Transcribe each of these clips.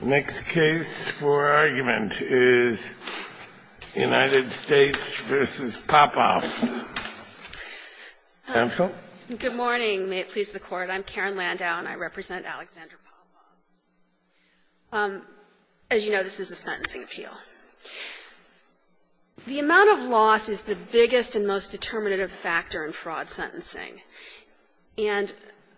The next case for argument is United States v. Popov. Counsel? Good morning. May it please the Court. I'm Karen Landau, and I represent Alexander Popov. As you know, this is a sentencing appeal. The amount of loss is the biggest and most determinative factor in fraud sentencing. And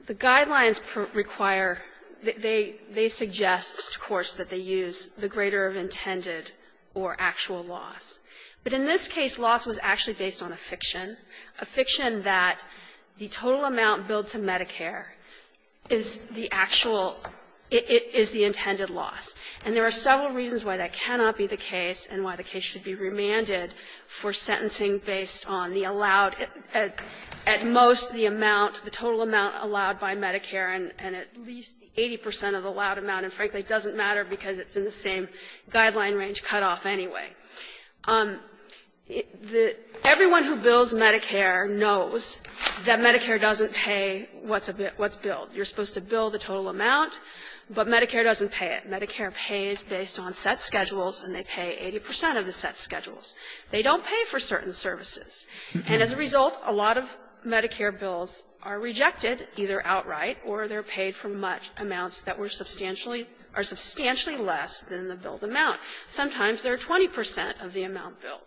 the guidelines require – they suggest, of course, that they use the greater of intended or actual loss. But in this case, loss was actually based on a fiction, a fiction that the total amount billed to Medicare is the actual – is the intended loss. And there are several reasons why that cannot be the case and why the case should be remanded for sentencing based on the allowed – at most the amount, the total amount allowed by Medicare, and at least 80 percent of the allowed amount. And, frankly, it doesn't matter because it's in the same guideline range cutoff anyway. Everyone who bills Medicare knows that Medicare doesn't pay what's billed. You're supposed to bill the total amount, but Medicare doesn't pay it. Medicare pays based on set schedules, and they pay 80 percent of the set schedules. They don't pay for certain services. And as a result, a lot of Medicare bills are rejected, either outright or they're paid for much amounts that were substantially – are substantially less than the billed amount. Sometimes they're 20 percent of the amount billed.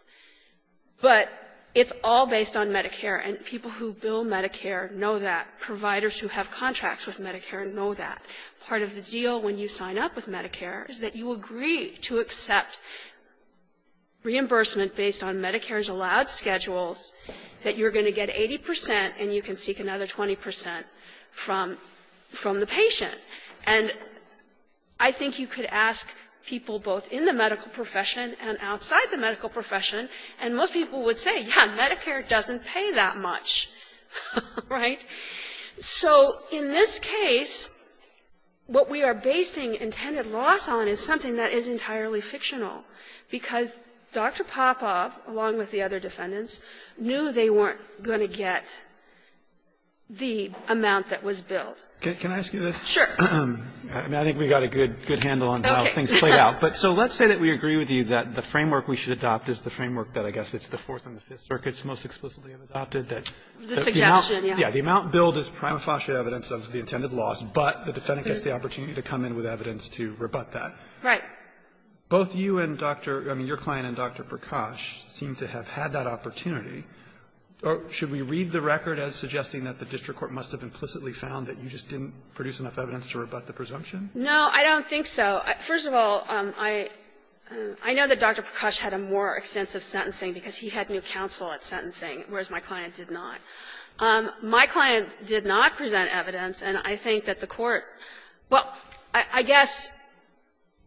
But it's all based on Medicare, and people who bill Medicare know that. Providers who have contracts with Medicare know that. Part of the deal when you sign up with Medicare is that you agree to accept reimbursement based on Medicare's allowed schedules, that you're going to get 80 percent and you can seek another 20 percent from the patient. And I think you could ask people both in the medical profession and outside the medical profession, and most people would say, yeah, Medicare doesn't pay that much, right? So in this case, what we are basing intended loss on is something that is entirely fictional, because Dr. Popov, along with the other defendants, knew they weren't going to get the amount that was billed. Roberts, Jr. Can I ask you this? Kagan, Kagan Sure. Roberts, Jr. I mean, I think we got a good handle on how things played out. But so let's say that we agree with you that the framework we should adopt is the framework that, I guess, it's the Fourth and the Fifth Circuits most explicitly have adopted, that the amount – Kagan The suggestion, yeah. Roberts, Jr. I mean, the amount billed is prima facie evidence of the intended loss, but the defendant gets the opportunity to come in with evidence to rebut that. Kagan Right. Roberts, Jr. Both you and Dr. – I mean, your client and Dr. Prakash seem to have had that opportunity. Should we read the record as suggesting that the district court must have implicitly found that you just didn't produce enough evidence to rebut the presumption? Kagan No, I don't think so. First of all, I know that Dr. Prakash had a more extensive sentencing because he had new counsel at sentencing, whereas my client did not. My client did not present evidence, and I think that the Court – well, I guess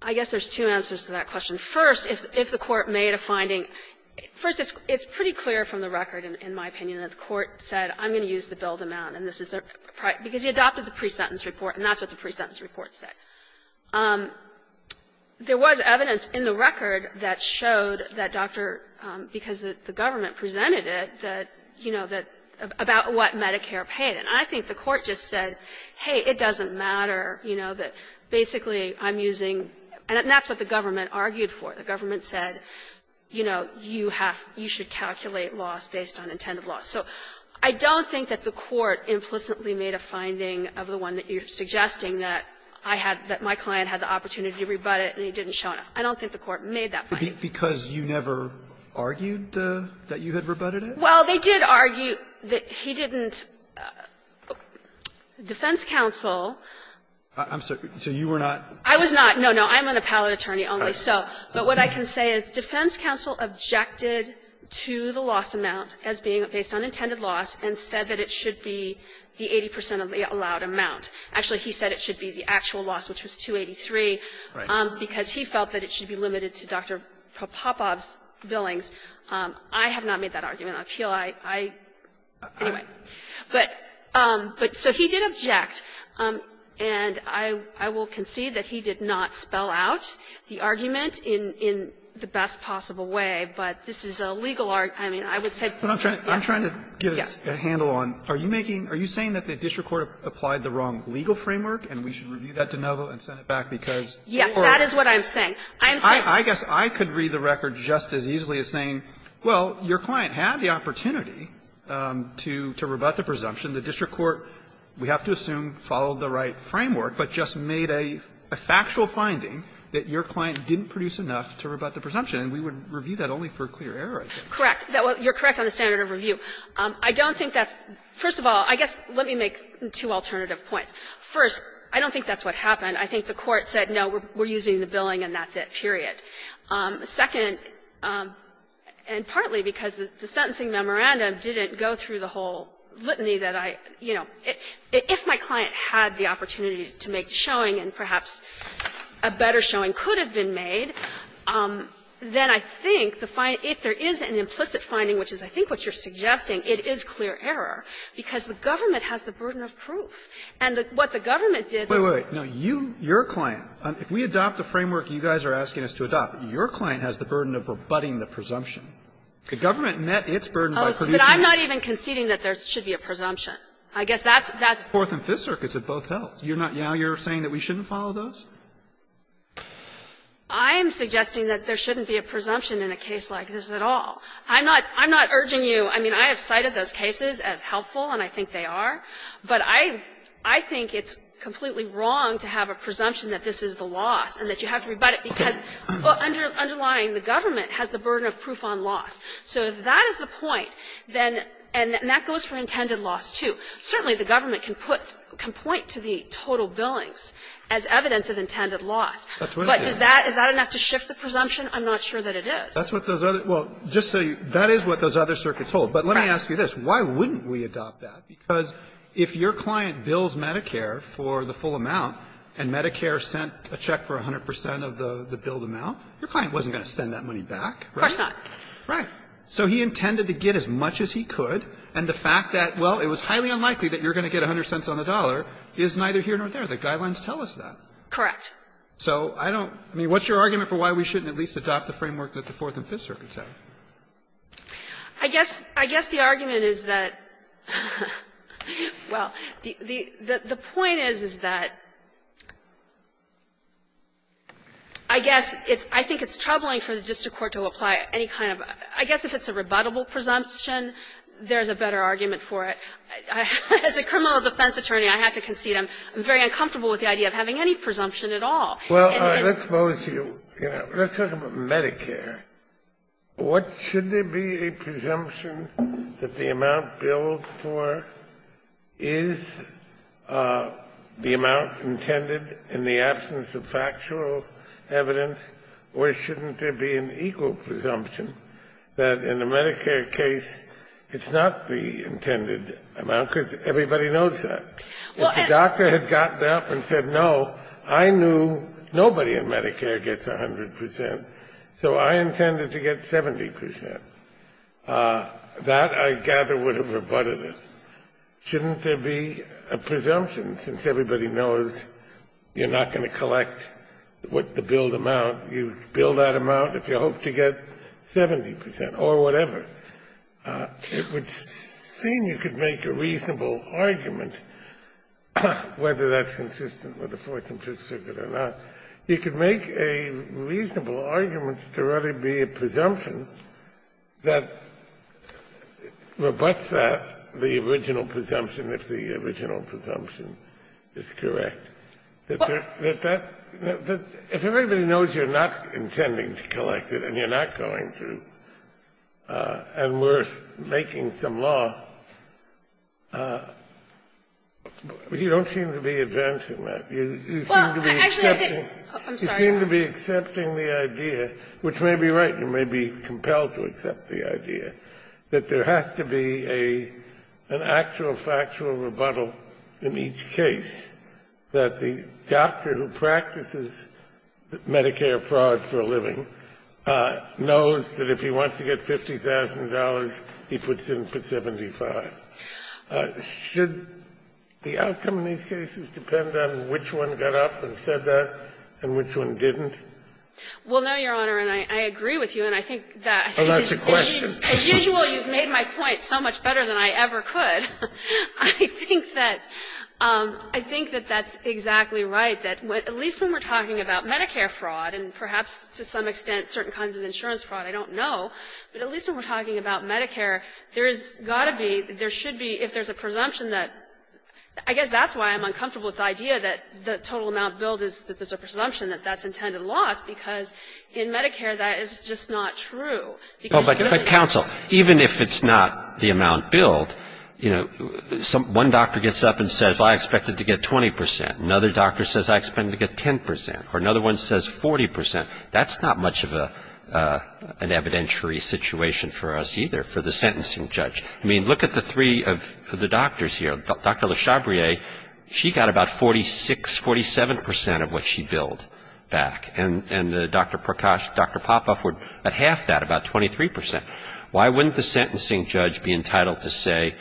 there's two answers to that question. First, if the Court made a finding – first, it's pretty clear from the record, in my opinion, that the Court said, I'm going to use the bill to mount, and this is the – because he adopted the pre-sentence report, and that's what the pre-sentence report said. There was evidence in the record that showed that Dr. – because the government presented it, that, you know, that – about what Medicare paid, and I think the Court just said, hey, it doesn't matter, you know, that basically I'm using – and that's what the government argued for. The government said, you know, you have – you should calculate loss based on intended loss. So I don't think that the Court implicitly made a finding of the one that you're suggesting, that I had – that my client had the opportunity to rebut it and he didn't show enough. I don't think the Court made that finding. Alitoso, because you never argued that you had rebutted it? Well, they did argue that he didn't – defense counsel – I'm sorry. So you were not – I was not. No, no. I'm an appellate attorney only, so – but what I can say is defense counsel objected to the loss amount as being based on intended loss and said that it should be the 80 percent of the allowed amount. Actually, he said it should be the actual loss, which was 283, because he felt that it should be limited to Dr. Popov's billings. I have not made that argument. I feel I – I – anyway. But – but so he did object, and I will concede that he did not spell out the argument in the best possible way, but this is a legal – I mean, I would say – But I'm trying to get a handle on – are you making – are you saying that the district court applied the wrong legal framework and we should review that de novo and send it back because – Yes, that is what I'm saying. I'm saying – I guess I could read the record just as easily as saying, well, your client had the opportunity to – to rebut the presumption. The district court, we have to assume, followed the right framework, but just made a – a factual finding that your client didn't produce enough to rebut the presumption, and we would review that only for clear error, I think. Correct. You're correct on the standard of review. I don't think that's – first of all, I guess let me make two alternative points. First, I don't think that's what happened. I think the court said, no, we're using the billing and that's it, period. Second, and partly because the sentencing memorandum didn't go through the whole litany that I – you know, if my client had the opportunity to make the showing and perhaps a better showing could have been made, then I think the – if there is an implicit finding, which is I think what you're suggesting, it is clear error, because the government has the burden of proof. And what the government did was to adopt the framework you guys are asking us to adopt. Your client has the burden of rebutting the presumption. The government met its burden by producing that. But I'm not even conceding that there should be a presumption. I guess that's – that's the Fourth and Fifth Circuits that both held. You're not – now you're saying that we shouldn't follow those? I am suggesting that there shouldn't be a presumption in a case like this at all. I'm not – I'm not urging you – I mean, I have cited those cases as helpful and I think they are, but I – I think it's completely wrong to have a presumption that this is the loss and that you have to rebut it because underlying the government has the burden of proof on loss. So if that is the point, then – and that goes for intended loss, too. Certainly, the government can put – can point to the total billings as evidence of intended loss. But does that – is that enough to shift the presumption? I'm not sure that it is. That's what those other – well, just so you – that is what those other circuits hold. Right. But let me ask you this. Why wouldn't we adopt that? Because if your client bills Medicare for the full amount and Medicare sent a check for 100 percent of the billed amount, your client wasn't going to send that money back, right? Of course not. Right. So he intended to get as much as he could, and the fact that, well, it was highly unlikely that you're going to get 100 cents on the dollar is neither here nor there. The guidelines tell us that. Correct. So I don't – I mean, what's your argument for why we shouldn't at least adopt the framework that the Fourth and Fifth Circuits have? I guess – I guess the argument is that – well, the point is, is that I guess it's – I think it's troubling for the district court to apply any kind of – I guess if it's a rebuttable presumption, there's a better argument for it. As a criminal defense attorney, I have to concede I'm very uncomfortable with the idea of having any presumption at all. Well, let's suppose you – let's talk about Medicare. What – should there be a presumption that the amount billed for is the amount intended in the absence of factual evidence, or shouldn't there be an equal presumption that in the Medicare case, it's not the intended amount, because everybody knows that? If the doctor had gotten up and said, no, I knew nobody in Medicare gets 100 percent, so I intended to get 70 percent, that, I gather, would have rebutted it. Shouldn't there be a presumption, since everybody knows you're not going to collect what the billed amount – you bill that amount if you hope to get 70 percent, or whatever? It would seem you could make a reasonable argument, whether that's consistent with the Fourth and Fifth Circuit or not. You could make a reasonable argument that there ought to be a presumption that rebutts that, the original presumption, if the original presumption is correct. That that – that if everybody knows you're not intending to collect it and you're not going to, and we're making some law, you don't seem to be advancing that. You seem to be accepting the idea, which may be right, you may be compelled to accept the idea, that there has to be an actual factual rebuttal in each case, that the doctor who practices Medicare fraud for a living knows that if he wants to get $50,000, he puts in for 75. Should the outcome of these cases depend on which one got up and said that and which one didn't? Well, no, Your Honor, and I agree with you, and I think that as usual, you've made my point so much better than I ever could. I think that – I think that that's exactly right, that at least when we're talking about Medicare fraud and perhaps to some extent certain kinds of insurance fraud, I don't know, but at least when we're talking about Medicare, there's got to be, there should be, if there's a presumption that – I guess that's why I'm uncomfortable with the idea that the total amount billed is that there's a presumption that that's intended loss, because in Medicare that is just not true. Well, but counsel, even if it's not the amount billed, you know, one doctor gets up and says, well, I expect it to get 20 percent. Another doctor says, I expect it to get 10 percent, or another one says 40 percent. That's not much of an evidentiary situation for us either, for the sentencing judge. I mean, look at the three of the doctors here. Dr. Le Chabrier, she got about 46, 47 percent of what she billed back, and Dr. Prakash and Dr. Popoff were at half that, about 23 percent. Why wouldn't the sentencing judge be entitled to say,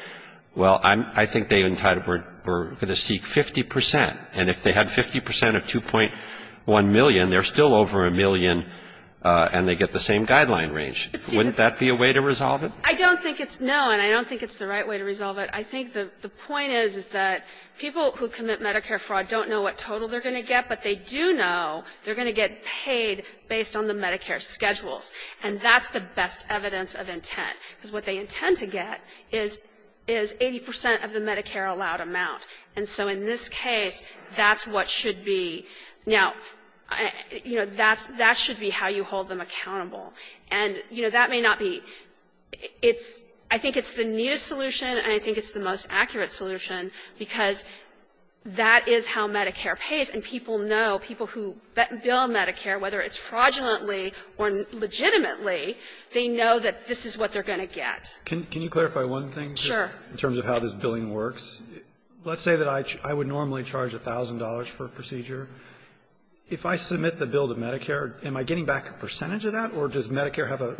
well, I'm, I think they're entitled, we're going to seek 50 percent, and if they had 50 percent of 2.1 million, they're still over a million and they get the same guideline range. Wouldn't that be a way to resolve it? I don't think it's – no, and I don't think it's the right way to resolve it. I think the point is, is that people who commit Medicare fraud don't know what total they're going to get, but they do know they're going to get paid based on the Medicare schedules, and that's the best evidence of intent, because what they intend to get is 80 percent of the Medicare-allowed amount. And so in this case, that's what should be – now, you know, that should be how you hold them accountable. And you know, that may not be – it's – I think it's the neatest solution, and I think it's the most accurate solution, because that is how Medicare pays. And people know, people who bill Medicare, whether it's fraudulently or legitimately, they know that this is what they're going to get. Can you clarify one thing? Sure. In terms of how this billing works? Let's say that I would normally charge $1,000 for a procedure. If I submit the bill to Medicare, am I getting back a percentage of that, or does Medicare have a –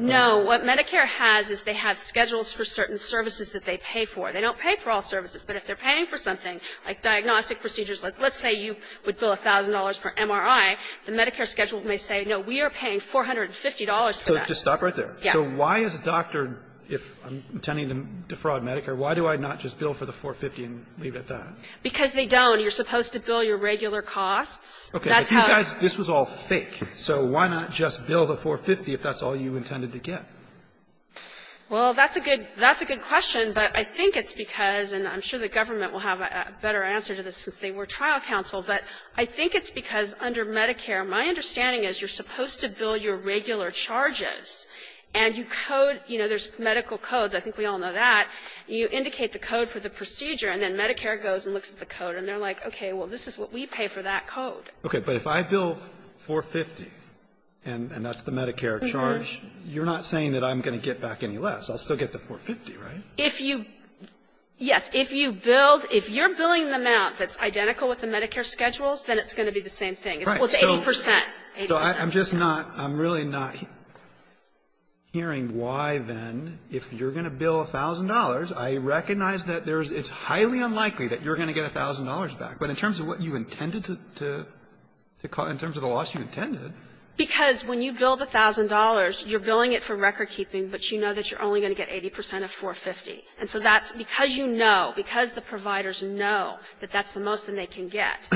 They don't pay for all services, but if they're paying for something, like diagnostic procedures, like let's say you would bill $1,000 for MRI, the Medicare schedule may say, no, we are paying $450 for that. So just stop right there. Yeah. So why is a doctor, if I'm intending to defraud Medicare, why do I not just bill for the 450 and leave it at that? Because they don't. You're supposed to bill your regular costs. Okay. But these guys, this was all fake, so why not just bill the 450 if that's all you intended to get? Well, that's a good question, but I think it's because, and I'm sure the government will have a better answer to this since they were trial counsel, but I think it's because under Medicare, my understanding is you're supposed to bill your regular charges, and you code, you know, there's medical codes. I think we all know that. You indicate the code for the procedure, and then Medicare goes and looks at the code, and they're like, okay, well, this is what we pay for that code. Okay. But if I bill 450, and that's the Medicare charge, you're not saying that I'm going to get back any less. I'll still get the 450, right? If you yes, if you billed, if you're billing the amount that's identical with the Medicare schedules, then it's going to be the same thing. It's 80 percent. So I'm just not, I'm really not hearing why, then, if you're going to bill $1,000, I recognize that there's, it's highly unlikely that you're going to get $1,000 back. But in terms of what you intended to, to, in terms of the loss you intended. Because when you bill the $1,000, you're billing it for recordkeeping, but you know that you're only going to get 80 percent of 450. And so that's, because you know, because the providers know that that's the most that they can get,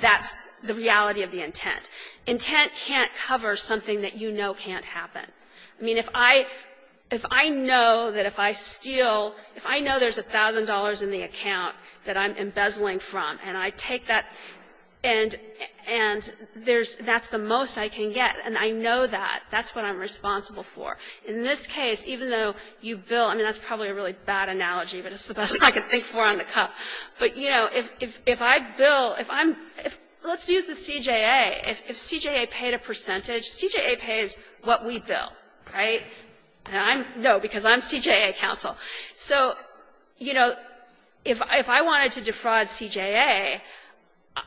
that's the reality of the intent. Intent can't cover something that you know can't happen. I mean, if I, if I know that if I steal, if I know there's $1,000 in the account that I'm embezzling from, and I take that, and, and there's, that's the most I can get, and I know that, that's what I'm responsible for. In this case, even though you bill, I mean, that's probably a really bad analogy, but it's the best I can think for on the cuff. But you know, if, if I bill, if I'm, if, let's use the CJA. If, if CJA paid a percentage, CJA pays what we bill, right? And I'm, no, because I'm CJA counsel. So, you know, if, if I wanted to defraud CJA,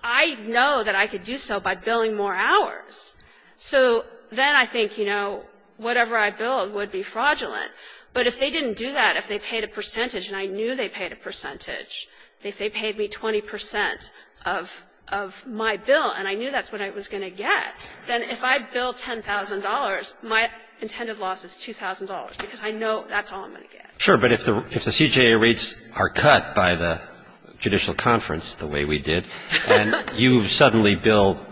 I know that I could do so by billing more hours. So then I think, you know, whatever I billed would be fraudulent. But if they didn't do that, if they paid a percentage, and I knew they paid a percentage, if they paid me 20 percent of, of my bill, and I knew that's what I was going to get, then if I bill $10,000, my intended loss is $2,000, because I know that's all I'm going to get. Sure. But if the, if the CJA rates are cut by the judicial conference, the way we did, and you suddenly bill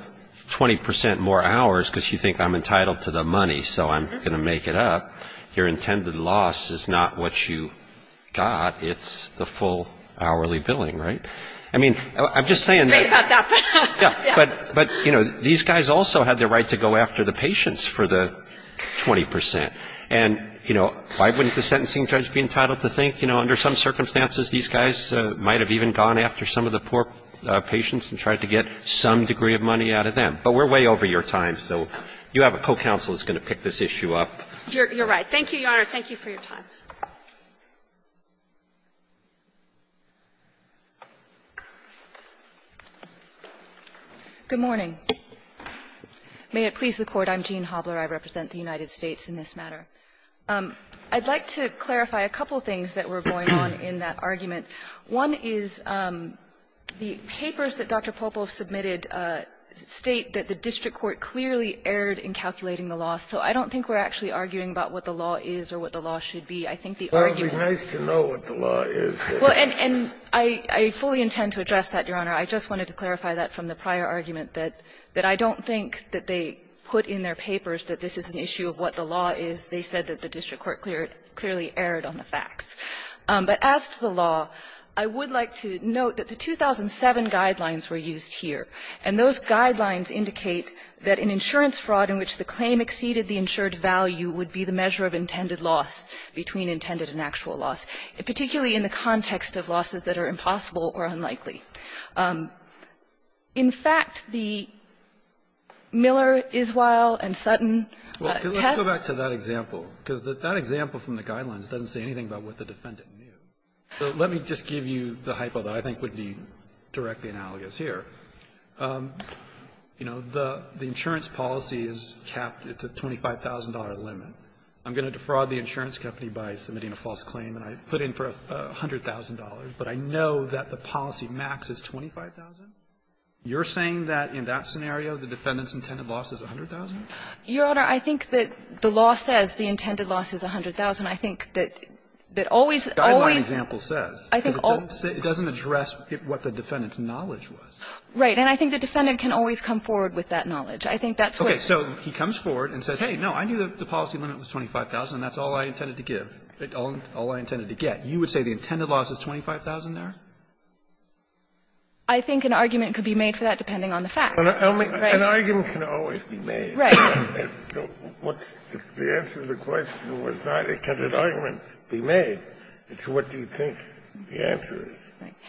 20 percent more hours because you think I'm entitled to the money, so I'm going to make it up, your intended loss is not what you got. It's the full hourly billing, right? I mean, I'm just saying that, yeah, but, but, you know, these guys also had the right to go after the patients for the 20 percent. And, you know, why wouldn't the sentencing judge be entitled to think, you know, under some circumstances, these guys might have even gone after some of the poor patients and tried to get some degree of money out of them. But we're way over your time, so you have a co-counsel that's going to pick this issue up. You're right. Thank you, Your Honor. Thank you for your time. Good morning. May it please the Court, I'm Jean Hobler. I represent the United States in this matter. I'd like to clarify a couple of things that were going on in that argument. One is the papers that Dr. Popov submitted state that the district court clearly erred in calculating the loss. So I don't think we're actually arguing about what the law is or what the law should be. I think the argument was that the district court should be calculating the loss. Well, and I fully intend to address that, Your Honor. I just wanted to clarify that from the prior argument, that I don't think that they put in their papers that this is an issue of what the law is. They said that the district court clearly erred on the facts. But as to the law, I would like to note that the 2007 guidelines were used here, and those guidelines indicate that an insurance fraud in which the claim exceeded the insured value would be the measure of intended loss between intended and actual loss, particularly in the context of losses that are impossible or unlikely. In fact, the Miller-Iswail and Sutton tests go back to that example, because that example from the guidelines doesn't say anything about what the defendant knew. So let me just give you the hypo that I think would be directly analogous here. You know, the insurance policy is capped. It's a $25,000 limit. I'm going to defraud the insurance company by submitting a false claim, and I put in for $100,000, but I know that the policy max is $25,000. You're saying that in that scenario, the defendant's intended loss is $100,000? Your Honor, I think that the law says the intended loss is $100,000. I think that always, always the guideline example says, because it doesn't address what the defendant's knowledge was. Right. And I think the defendant can always come forward with that knowledge. I think that's what it says. Okay. So he comes forward and says, hey, no, I knew that the policy limit was $25,000, and that's all I intended to give, all I intended to get. You would say the intended loss is $25,000 there? I think an argument could be made for that, depending on the facts. An argument can always be made. Right. The answer to the question was not, can an argument be made, it's what do you think the answer is.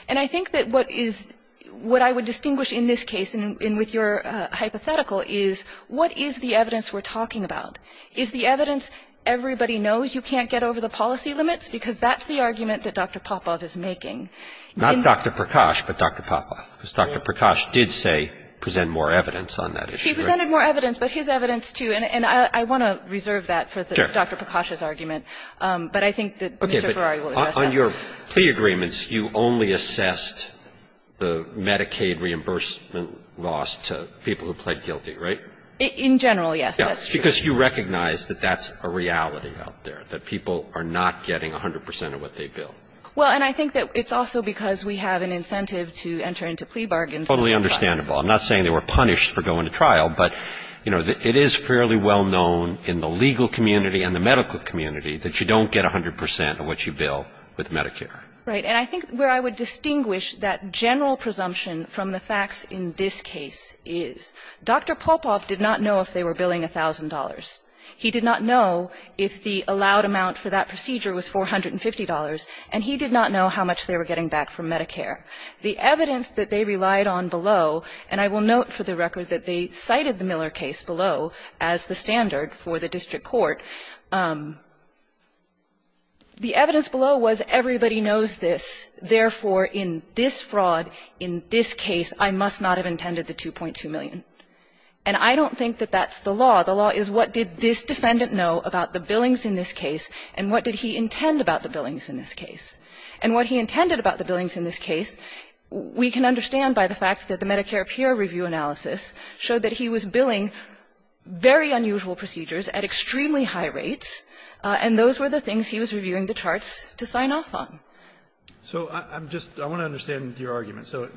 And I think that what is what I would distinguish in this case, and with your hypothetical, is what is the evidence we're talking about? Is the evidence everybody knows you can't get over the policy limits? Because that's the argument that Dr. Popov is making. Not Dr. Prakash, but Dr. Popov, because Dr. Prakash did say present more evidence on that issue. He presented more evidence, but his evidence, too. And I want to reserve that for Dr. Prakash's argument. But I think that Mr. Ferrari will address that. On your plea agreements, you only assessed the Medicaid reimbursement loss to people who pled guilty, right? In general, yes. Because you recognize that that's a reality out there, that people are not getting 100 percent of what they bill. Well, and I think that it's also because we have an incentive to enter into plea bargains. It's totally understandable. I'm not saying they were punished for going to trial, but, you know, it is fairly well known in the legal community and the medical community that you don't get 100 percent of what you bill with Medicare. Right. And I think where I would distinguish that general presumption from the facts in this case is, Dr. Polpoff did not know if they were billing $1,000. He did not know if the allowed amount for that procedure was $450, and he did not know how much they were getting back from Medicare. The evidence that they relied on below, and I will note for the record that they cited the Miller case below as the standard for the district court, the evidence below was everybody knows this, therefore, in this fraud, in this case, I must not have intended the $2.2 million. And I don't think that that's the law. The law is what did this defendant know about the billings in this case, and what did he intend about the billings in this case. And what he intended about the billings in this case, we can understand by the fact that the Medicare peer review analysis showed that he was billing very unusual procedures at extremely high rates, and those were the things he was reviewing the charts to sign off on. So I'm just going to understand your argument. So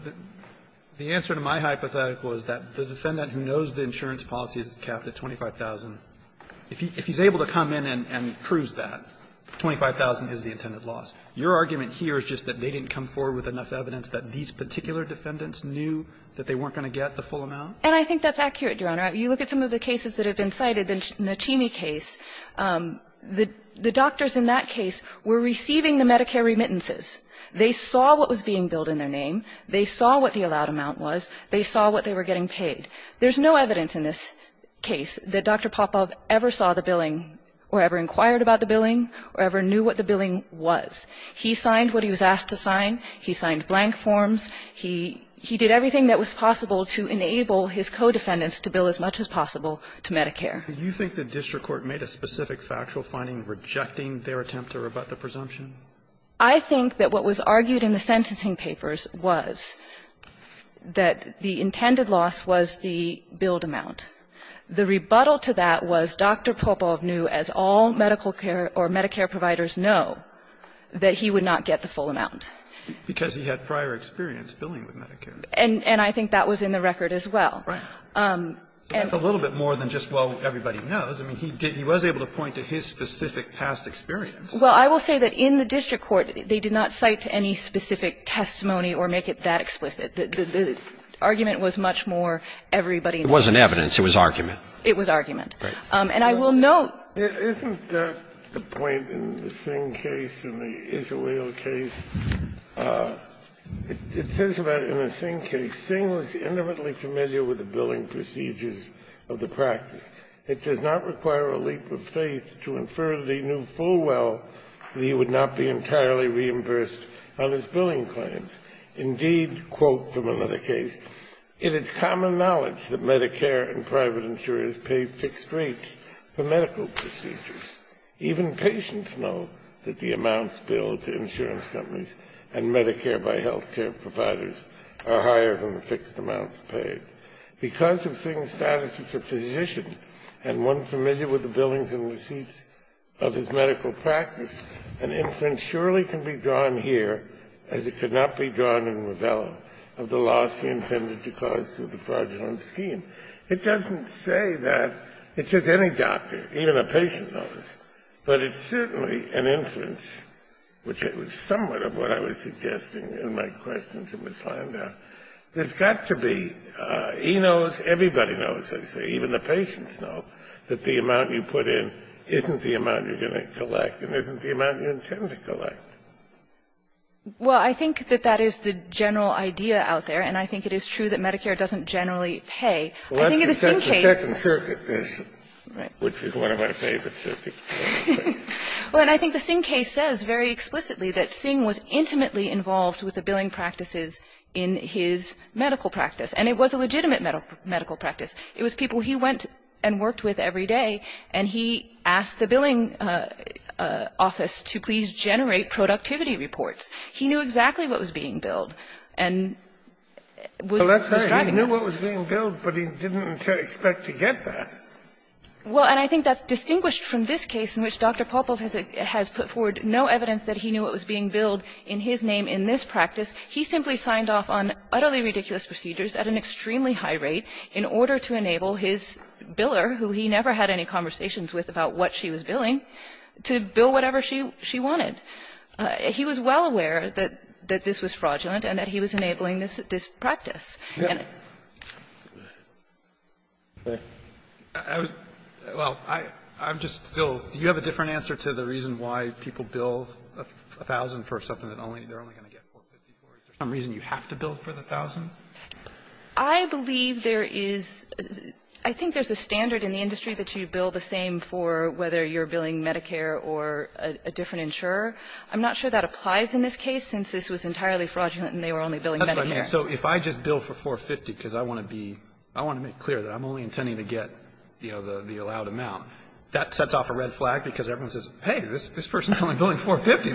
the answer to my hypothetical is that the defendant who knows the insurance policy is capped at $25,000, if he's able to come in and prove that, $25,000 is the intended loss. Your argument here is just that they didn't come forward with enough evidence that these particular defendants knew that they weren't going to get the full amount? And I think that's accurate, Your Honor. You look at some of the cases that have been cited, the Natchini case, the doctors in that case were receiving the Medicare remittances. They saw what was being billed in their name. They saw what the allowed amount was. They saw what they were getting paid. There's no evidence in this case that Dr. Popov ever saw the billing or ever inquired about the billing or ever knew what the billing was. He signed what he was asked to sign. He signed blank forms. He did everything that was possible to enable his co-defendants to bill as much as possible to Medicare. Do you think the district court made a specific factual finding rejecting their attempt to rebut the presumption? I think that what was argued in the sentencing papers was that the intended loss was the billed amount. The rebuttal to that was Dr. Popov knew, as all medical care or Medicare providers know, that he would not get the full amount. Because he had prior experience billing with Medicare. And I think that was in the record as well. Right. That's a little bit more than just, well, everybody knows. I mean, he did he was able to point to his specific past experience. Well, I will say that in the district court, they did not cite any specific testimony or make it that explicit. The argument was much more everybody knows. It wasn't evidence. It was argument. It was argument. And I will note. Isn't that the point in the Singh case and the Israel case? It says about in the Singh case, Singh was intimately familiar with the billing procedures of the practice. It does not require a leap of faith to infer that he knew full well that he would not be entirely reimbursed on his billing claims. Indeed, quote from another case, it is common knowledge that Medicare and private insurers pay fixed rates for medical procedures. Even patients know that the amounts billed to insurance companies and Medicare by health care providers are higher than the fixed amounts paid. Because of Singh's status as a physician and one familiar with the billings and receipts of his medical practice, an inference surely can be drawn here, as it could not be drawn in Ravello, of the loss he intended to cause through the fraudulent scheme. It doesn't say that, it says any doctor, even a patient knows. But it's certainly an inference, which it was somewhat of what I was suggesting in my questions in this find out. There's got to be, he knows, everybody knows, I say, even the patients know, that the amount you put in isn't the amount you're going to collect and isn't the amount you intend to collect. Well, I think that that is the general idea out there, and I think it is true that Medicare doesn't generally pay. I think in the Singh case the second circuit is, which is one of my favorite circuits. The second circuit is that Dr. Popov was not directly involved with the billing practices in his medical practice, and it was a legitimate medical practice. It was people he went and worked with every day, and he asked the billing office to please generate productivity reports. He knew exactly what was being billed and was describing that. He knew what was being billed, but he didn't expect to get that. Well, and I think that's distinguished from this case in which Dr. Popov has put forward no evidence that he knew what was being billed in his name in this practice. He simply signed off on utterly ridiculous procedures at an extremely high rate in order to enable his biller, who he never had any conversations with about what she was billing, to bill whatever she wanted. He was well aware that this was fraudulent and that he was enabling this practice. Well, I'm just still do you have a different answer to the reason why people bill 1,000 for something that only they're only going to get 450, or is there some reason you have to bill for the 1,000? I believe there is – I think there's a standard in the industry that you bill the same for whether you're billing Medicare or a different insurer. I'm not sure that applies in this case, since this was entirely fraudulent and they were only billing Medicare. That's what I mean. So if I just bill for 450 because I want to be – I want to make clear that I'm only billing, you know, the allowed amount, that sets off a red flag because everyone says, hey, this person's only billing 450.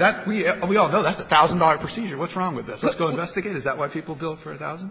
We all know that's a $1,000 procedure. What's wrong with this? Let's go investigate. Is that why people bill for 1,000?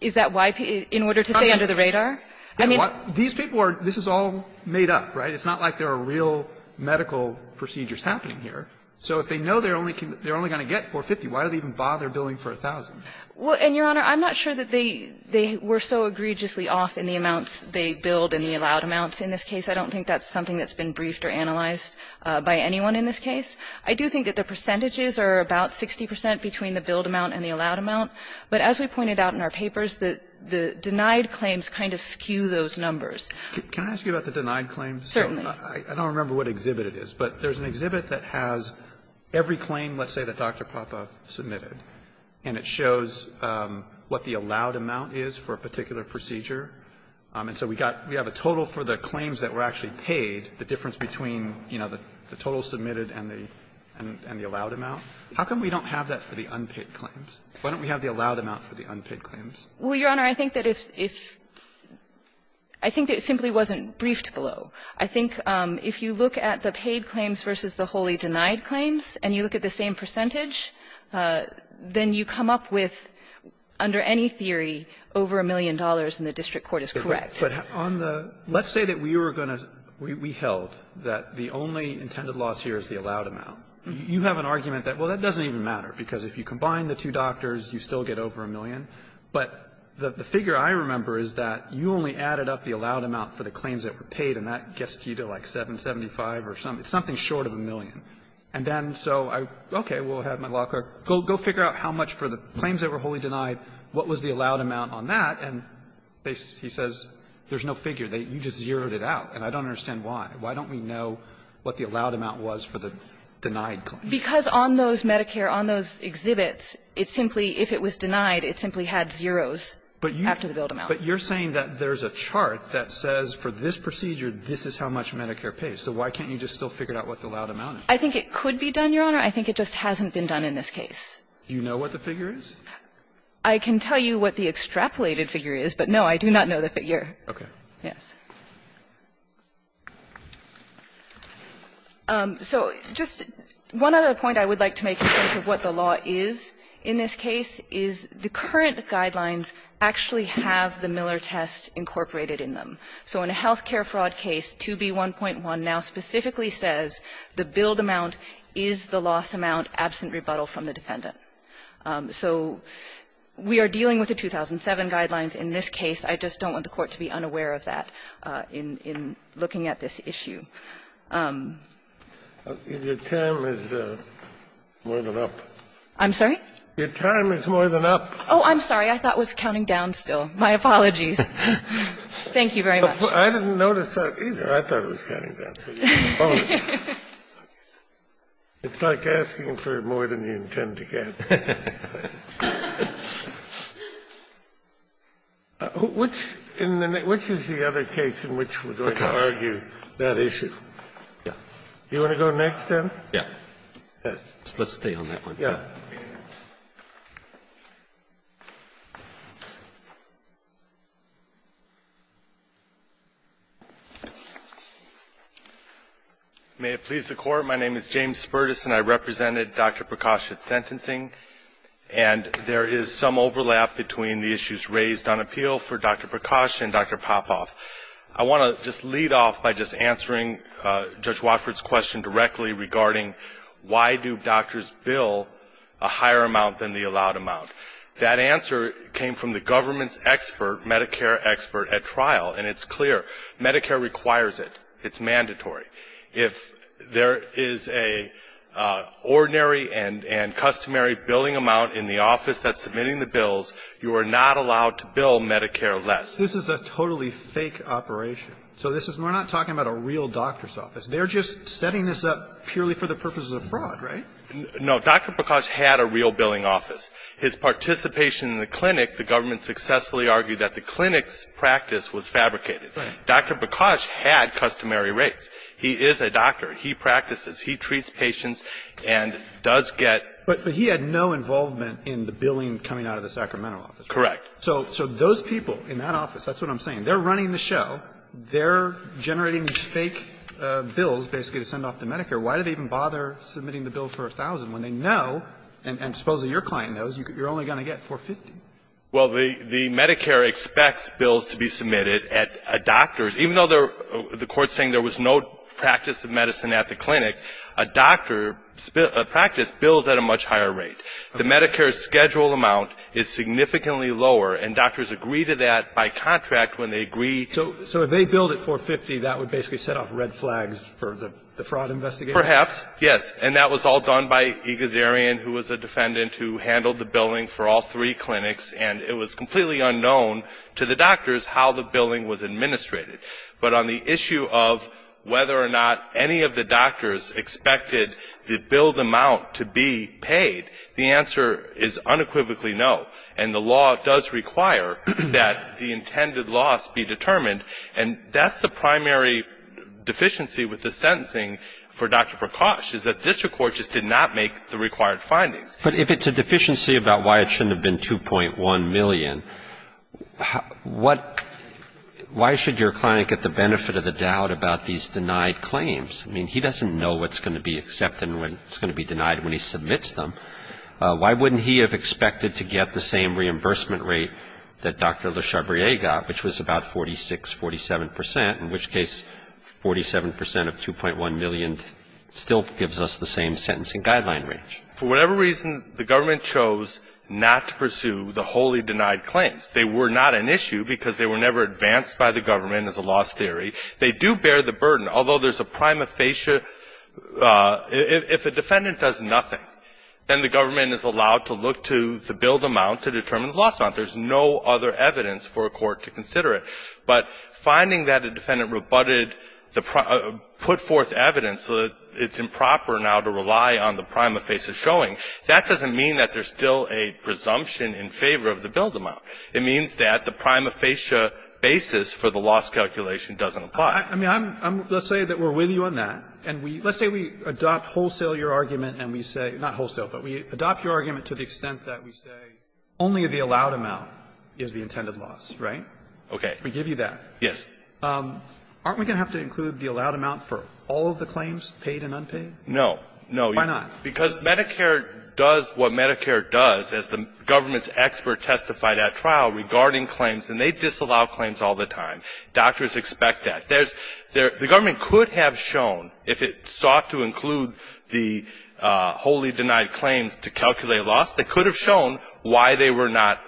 Is that why – in order to stay under the radar? I mean, what – these people are – this is all made up, right? It's not like there are real medical procedures happening here. So if they know they're only going to get 450, why do they even bother billing for 1,000? Well, and, Your Honor, I'm not sure that they were so egregiously off in the amounts they billed and the allowed amounts in this case. I don't think that's something that's been briefed or analyzed by anyone in this case. I do think that the percentages are about 60 percent between the billed amount and the allowed amount. But as we pointed out in our papers, the denied claims kind of skew those numbers. Roberts, can I ask you about the denied claims? Certainly. I don't remember what exhibit it is, but there's an exhibit that has every claim, let's say, that Dr. Papa submitted, and it shows what the allowed amount is for a particular procedure. And so we got – we have a total for the claims that were actually paid, the difference between, you know, the total submitted and the allowed amount. How come we don't have that for the unpaid claims? Why don't we have the allowed amount for the unpaid claims? Well, Your Honor, I think that if – I think it simply wasn't briefed below. I think if you look at the paid claims versus the wholly denied claims, and you look at the same percentage, then you come up with, under any theory, over a million dollars, and the district court is correct. But on the – let's say that we were going to – we held that the only intended loss here is the allowed amount. You have an argument that, well, that doesn't even matter, because if you combine the two doctors, you still get over a million. But the figure I remember is that you only added up the allowed amount for the claims that were paid, and that gets you to, like, 775 or something, something short of a million. And then, so I, okay, we'll have my law clerk go figure out how much for the claims that were wholly denied, what was the allowed amount on that, and they – he says there's no figure. You just zeroed it out, and I don't understand why. Why don't we know what the allowed amount was for the denied claim? Because on those Medicare, on those exhibits, it simply – if it was denied, it simply had zeros after the billed amount. But you're saying that there's a chart that says for this procedure, this is how much Medicare pays. So why can't you just still figure out what the allowed amount is? I think it could be done, Your Honor. I think it just hasn't been done in this case. Do you know what the figure is? I can tell you what the extrapolated figure is, but no, I do not know the figure. Okay. Yes. So just one other point I would like to make in terms of what the law is in this case is the current guidelines actually have the Miller test incorporated in them. So we are dealing with the 2007 guidelines in this case. I just don't want the Court to be unaware of that in looking at this issue. Your time is more than up. I'm sorry? Your time is more than up. Oh, I'm sorry. I thought it was counting down still. My apologies. Thank you very much. I didn't notice that either. I thought it was counting down. It's like asking for more than you intend to get. Which is the other case in which we're going to argue that issue? Do you want to go next, then? Yes. Let's stay on that one. Yes. May it please the Court, my name is James Spertus, and I represented Dr. Prakash at sentencing, and there is some overlap between the issues raised on appeal for Dr. Prakash and Dr. Popoff. I want to just lead off by just answering Judge Watford's question directly regarding why do doctors bill a higher amount than the allowed amount? That answer came from the government's expert, Medicare expert at trial, and it's clear. Medicare requires it. It's mandatory. If there is a ordinary and customary billing amount in the office that's submitting the bills, you are not allowed to bill Medicare less. This is a totally fake operation. So this is, we're not talking about a real doctor's office. They're just setting this up purely for the purposes of fraud, right? No. Dr. Prakash had a real billing office. His participation in the clinic, the government successfully argued that the clinic's practice was fabricated. Right. Dr. Prakash had customary rates. He is a doctor. He practices. He treats patients and does get But he had no involvement in the billing coming out of the Sacramento office. Correct. So those people in that office, that's what I'm saying, they're running the show. They're generating these fake bills basically to send off to Medicare. Why do they even bother submitting the bill for $1,000 when they know, and supposing your client knows, you're only going to get $450? Well, the Medicare expects bills to be submitted at a doctor's, even though the Court is saying there was no practice of medicine at the clinic, a doctor's practice bills at a much higher rate. The Medicare's scheduled amount is significantly lower, and doctors agree to that by contract when they agree. So if they billed it $450, that would basically set off red flags for the fraud investigators? Perhaps, yes. And that was all done by E. Gazarian, who was a defendant who handled the billing for all three clinics, and it was completely unknown to the doctors how the billing was administrated. But on the issue of whether or not any of the doctors expected the billed amount to be paid, the answer is unequivocally no. And the law does require that the intended loss be determined, and that's the primary deficiency with the sentencing for Dr. Prakash, is that this Court just did not make the required findings. But if it's a deficiency about why it shouldn't have been $2.1 million, what — why should your client get the benefit of the doubt about these denied claims? I mean, he doesn't know what's going to be accepted and what's going to be denied when he submits them. Why wouldn't he have expected to get the same reimbursement rate that Dr. Le Chabrier got, which was about 46, 47 percent, in which case 47 percent of $2.1 million still gives us the same sentencing guideline range? For whatever reason, the government chose not to pursue the wholly denied claims. They were not an issue because they were never advanced by the government, as a law theory. They do bear the burden, although there's a prima facie — if a defendant does nothing, then the government is allowed to look to the billed amount to determine the loss amount. There's no other evidence for a court to consider it. But finding that a defendant rebutted the — put forth evidence so that it's improper now to rely on the prima facie showing, that doesn't mean that there's still a presumption in favor of the billed amount. It means that the prima facie basis for the loss calculation doesn't apply. I mean, I'm — let's say that we're with you on that, and we — let's say we adopt wholesale your argument, and we say — not wholesale, but we adopt your argument to the extent that we say only the allowed amount is the intended loss, right? Goldstein, we give you that. Goldstein, yes. Aren't we going to have to include the allowed amount for all of the claims, paid and unpaid? No. No. Why not? Because Medicare does what Medicare does, as the government's expert testified at trial regarding claims, and they disallow claims all the time. Doctors expect that. There's — the government could have shown, if it sought to include the wholly denied claims to calculate loss, they could have shown why they were not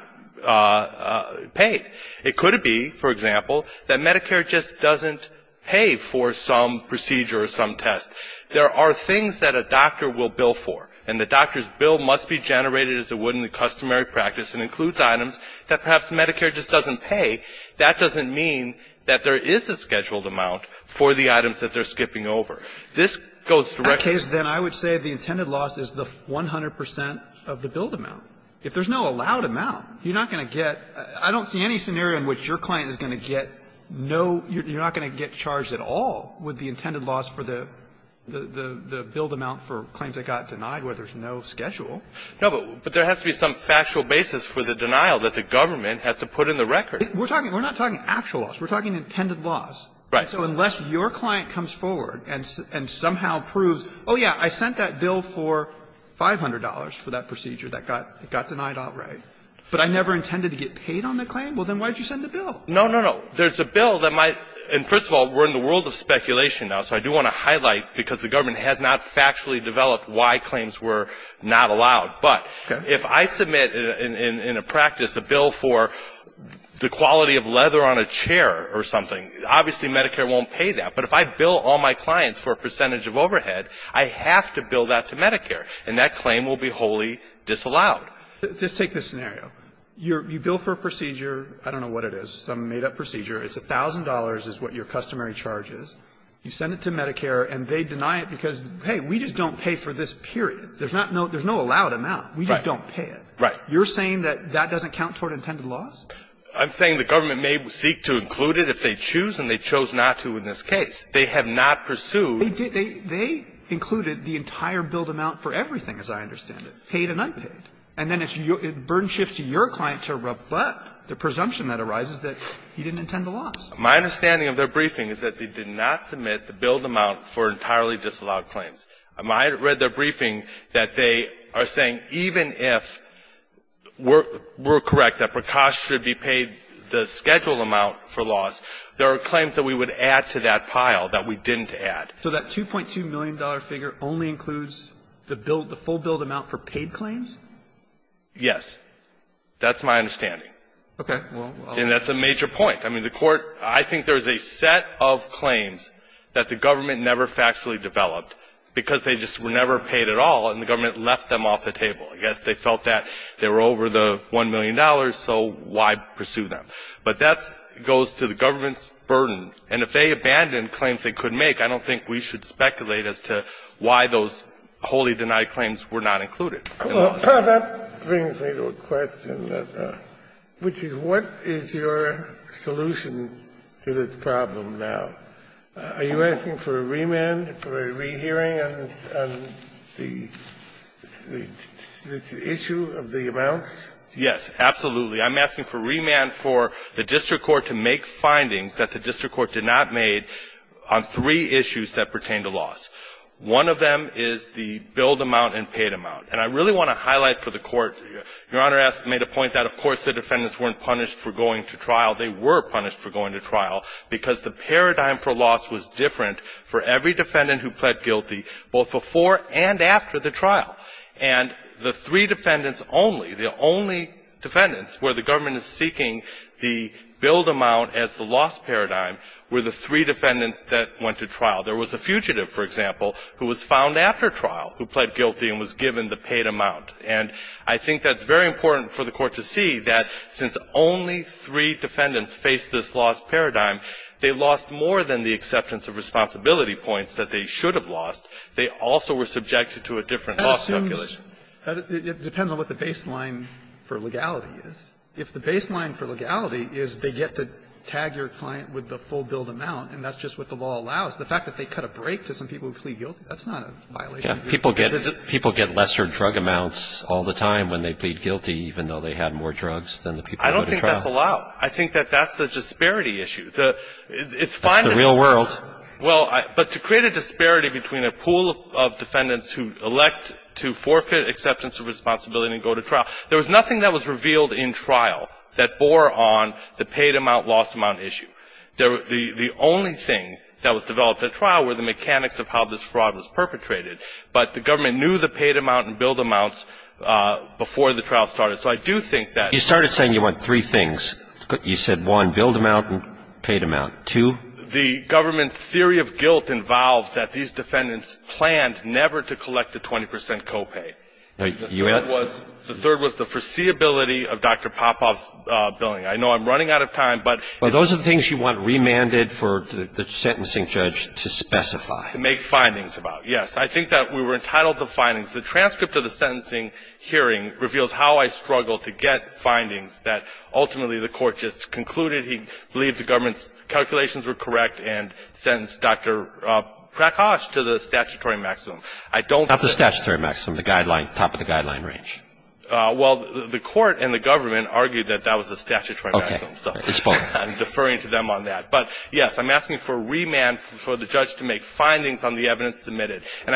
paid. It could be, for example, that Medicare just doesn't pay for some procedure or some test. There are things that a doctor will bill for, and the doctor's bill must be generated as it would in the customary practice and includes items that perhaps Medicare just doesn't pay. That doesn't mean that there is a scheduled amount for the items that they're skipping over. This goes directly to the government. In that case, then, I would say the intended loss is the 100 percent of the billed amount. If there's no allowed amount, you're not going to get — I don't see any scenario in which your client is going to get no — you're not going to get charged at all with the intended loss for the billed amount for claims that got denied where there's no schedule. No, but there has to be some factual basis for the denial that the government has to put in the record. We're talking — we're not talking actual loss. We're talking intended loss. Right. So unless your client comes forward and somehow proves, oh, yeah, I sent that bill for $500 for that procedure that got denied outright, but I never intended to get paid on the claim, well, then why did you send the bill? No, no, no. There's a bill that might — and first of all, we're in the world of speculation now, so I do want to highlight, because the government has not factually developed why claims were not allowed. But if I submit in a practice a bill for the quality of leather on a chair or something, obviously Medicare won't pay that. But if I bill all my clients for a percentage of overhead, I have to bill that to Medicare, and that claim will be wholly disallowed. Just take this scenario. You bill for a procedure — I don't know what it is, some made-up procedure. It's $1,000 is what your customary charge is. You send it to Medicare, and they deny it because, hey, we just don't pay for this period. There's not no — there's no allowed amount. We just don't pay it. Right. You're saying that that doesn't count toward intended loss? I'm saying the government may seek to include it if they choose, and they chose not to in this case. They have not pursued — They did — they included the entire billed amount for everything, as I understand it, paid and unpaid. And then it's your — it burden shifts to your client to rebut the presumption that arises that he didn't intend the loss. My understanding of their briefing is that they did not submit the billed amount for entirely disallowed claims. I read their briefing that they are saying even if we're correct that per cash should be paid the scheduled amount for loss, there are claims that we would add to that pile that we didn't add. So that $2.2 million figure only includes the billed — the full billed amount for paid claims? Yes. That's my understanding. Okay. And that's a major point. I mean, the Court — I think there's a set of claims that the government never factually developed because they just were never paid at all, and the government left them off the table. I guess they felt that they were over the $1 million, so why pursue them? But that goes to the government's burden. And if they abandoned claims they could make, I don't think we should speculate as to why those wholly denied claims were not included. Well, that brings me to a question that — which is what is your solution to this problem now? Are you asking for a remand, for a rehearing on the issue of the amounts? Yes, absolutely. I'm asking for remand for the district court to make findings that the district court did not make on three issues that pertain to loss. One of them is the billed amount and paid amount. And I really want to highlight for the Court, Your Honor made a point that, of course, the defendants weren't punished for going to trial. They were punished for going to trial because the paradigm for loss was different for every defendant who pled guilty, both before and after the trial. And the three defendants only, the only defendants where the government is seeking the billed amount as the loss paradigm were the three defendants that went to trial. There was a fugitive, for example, who was found after trial who pled guilty and was given the paid amount. And I think that's very important for the Court to see that since only three defendants faced this loss paradigm, they lost more than the acceptance of responsibility points that they should have lost. They also were subjected to a different loss calculation. It depends on what the baseline for legality is. If the baseline for legality is they get to tag your client with the full billed amount and that's just what the law allows, the fact that they cut a break to some people who plead guilty, that's not a violation. People get lesser drug amounts all the time when they plead guilty, even though they had more drugs than the people who go to trial. I don't think that's allowed. I think that that's the disparity issue. It's fine to say that. It's the real world. Well, but to create a disparity between a pool of defendants who elect to forfeit acceptance of responsibility and go to trial, there was nothing that was revealed in trial that bore on the paid amount, loss amount issue. The only thing that was developed at trial were the mechanics of how this fraud was done, but the government knew the paid amount and billed amounts before the trial started. So I do think that you started saying you want three things. You said one, billed amount and paid amount. Two, the government's theory of guilt involved that these defendants planned never to collect the 20 percent copay. The third was the foreseeability of Dr. Popoff's billing. I know I'm running out of time, but those are the things you want remanded for the sentencing judge to specify, make findings about. Yes. I think that we were entitled to the findings. The transcript of the sentencing hearing reveals how I struggled to get findings that ultimately the court just concluded he believed the government's calculations were correct and sentenced Dr. Prakash to the statutory maximum. I don't think the guideline top of the guideline range. Well, the court and the government argued that that was the statutory maximum. Okay. I'm deferring to them on that. And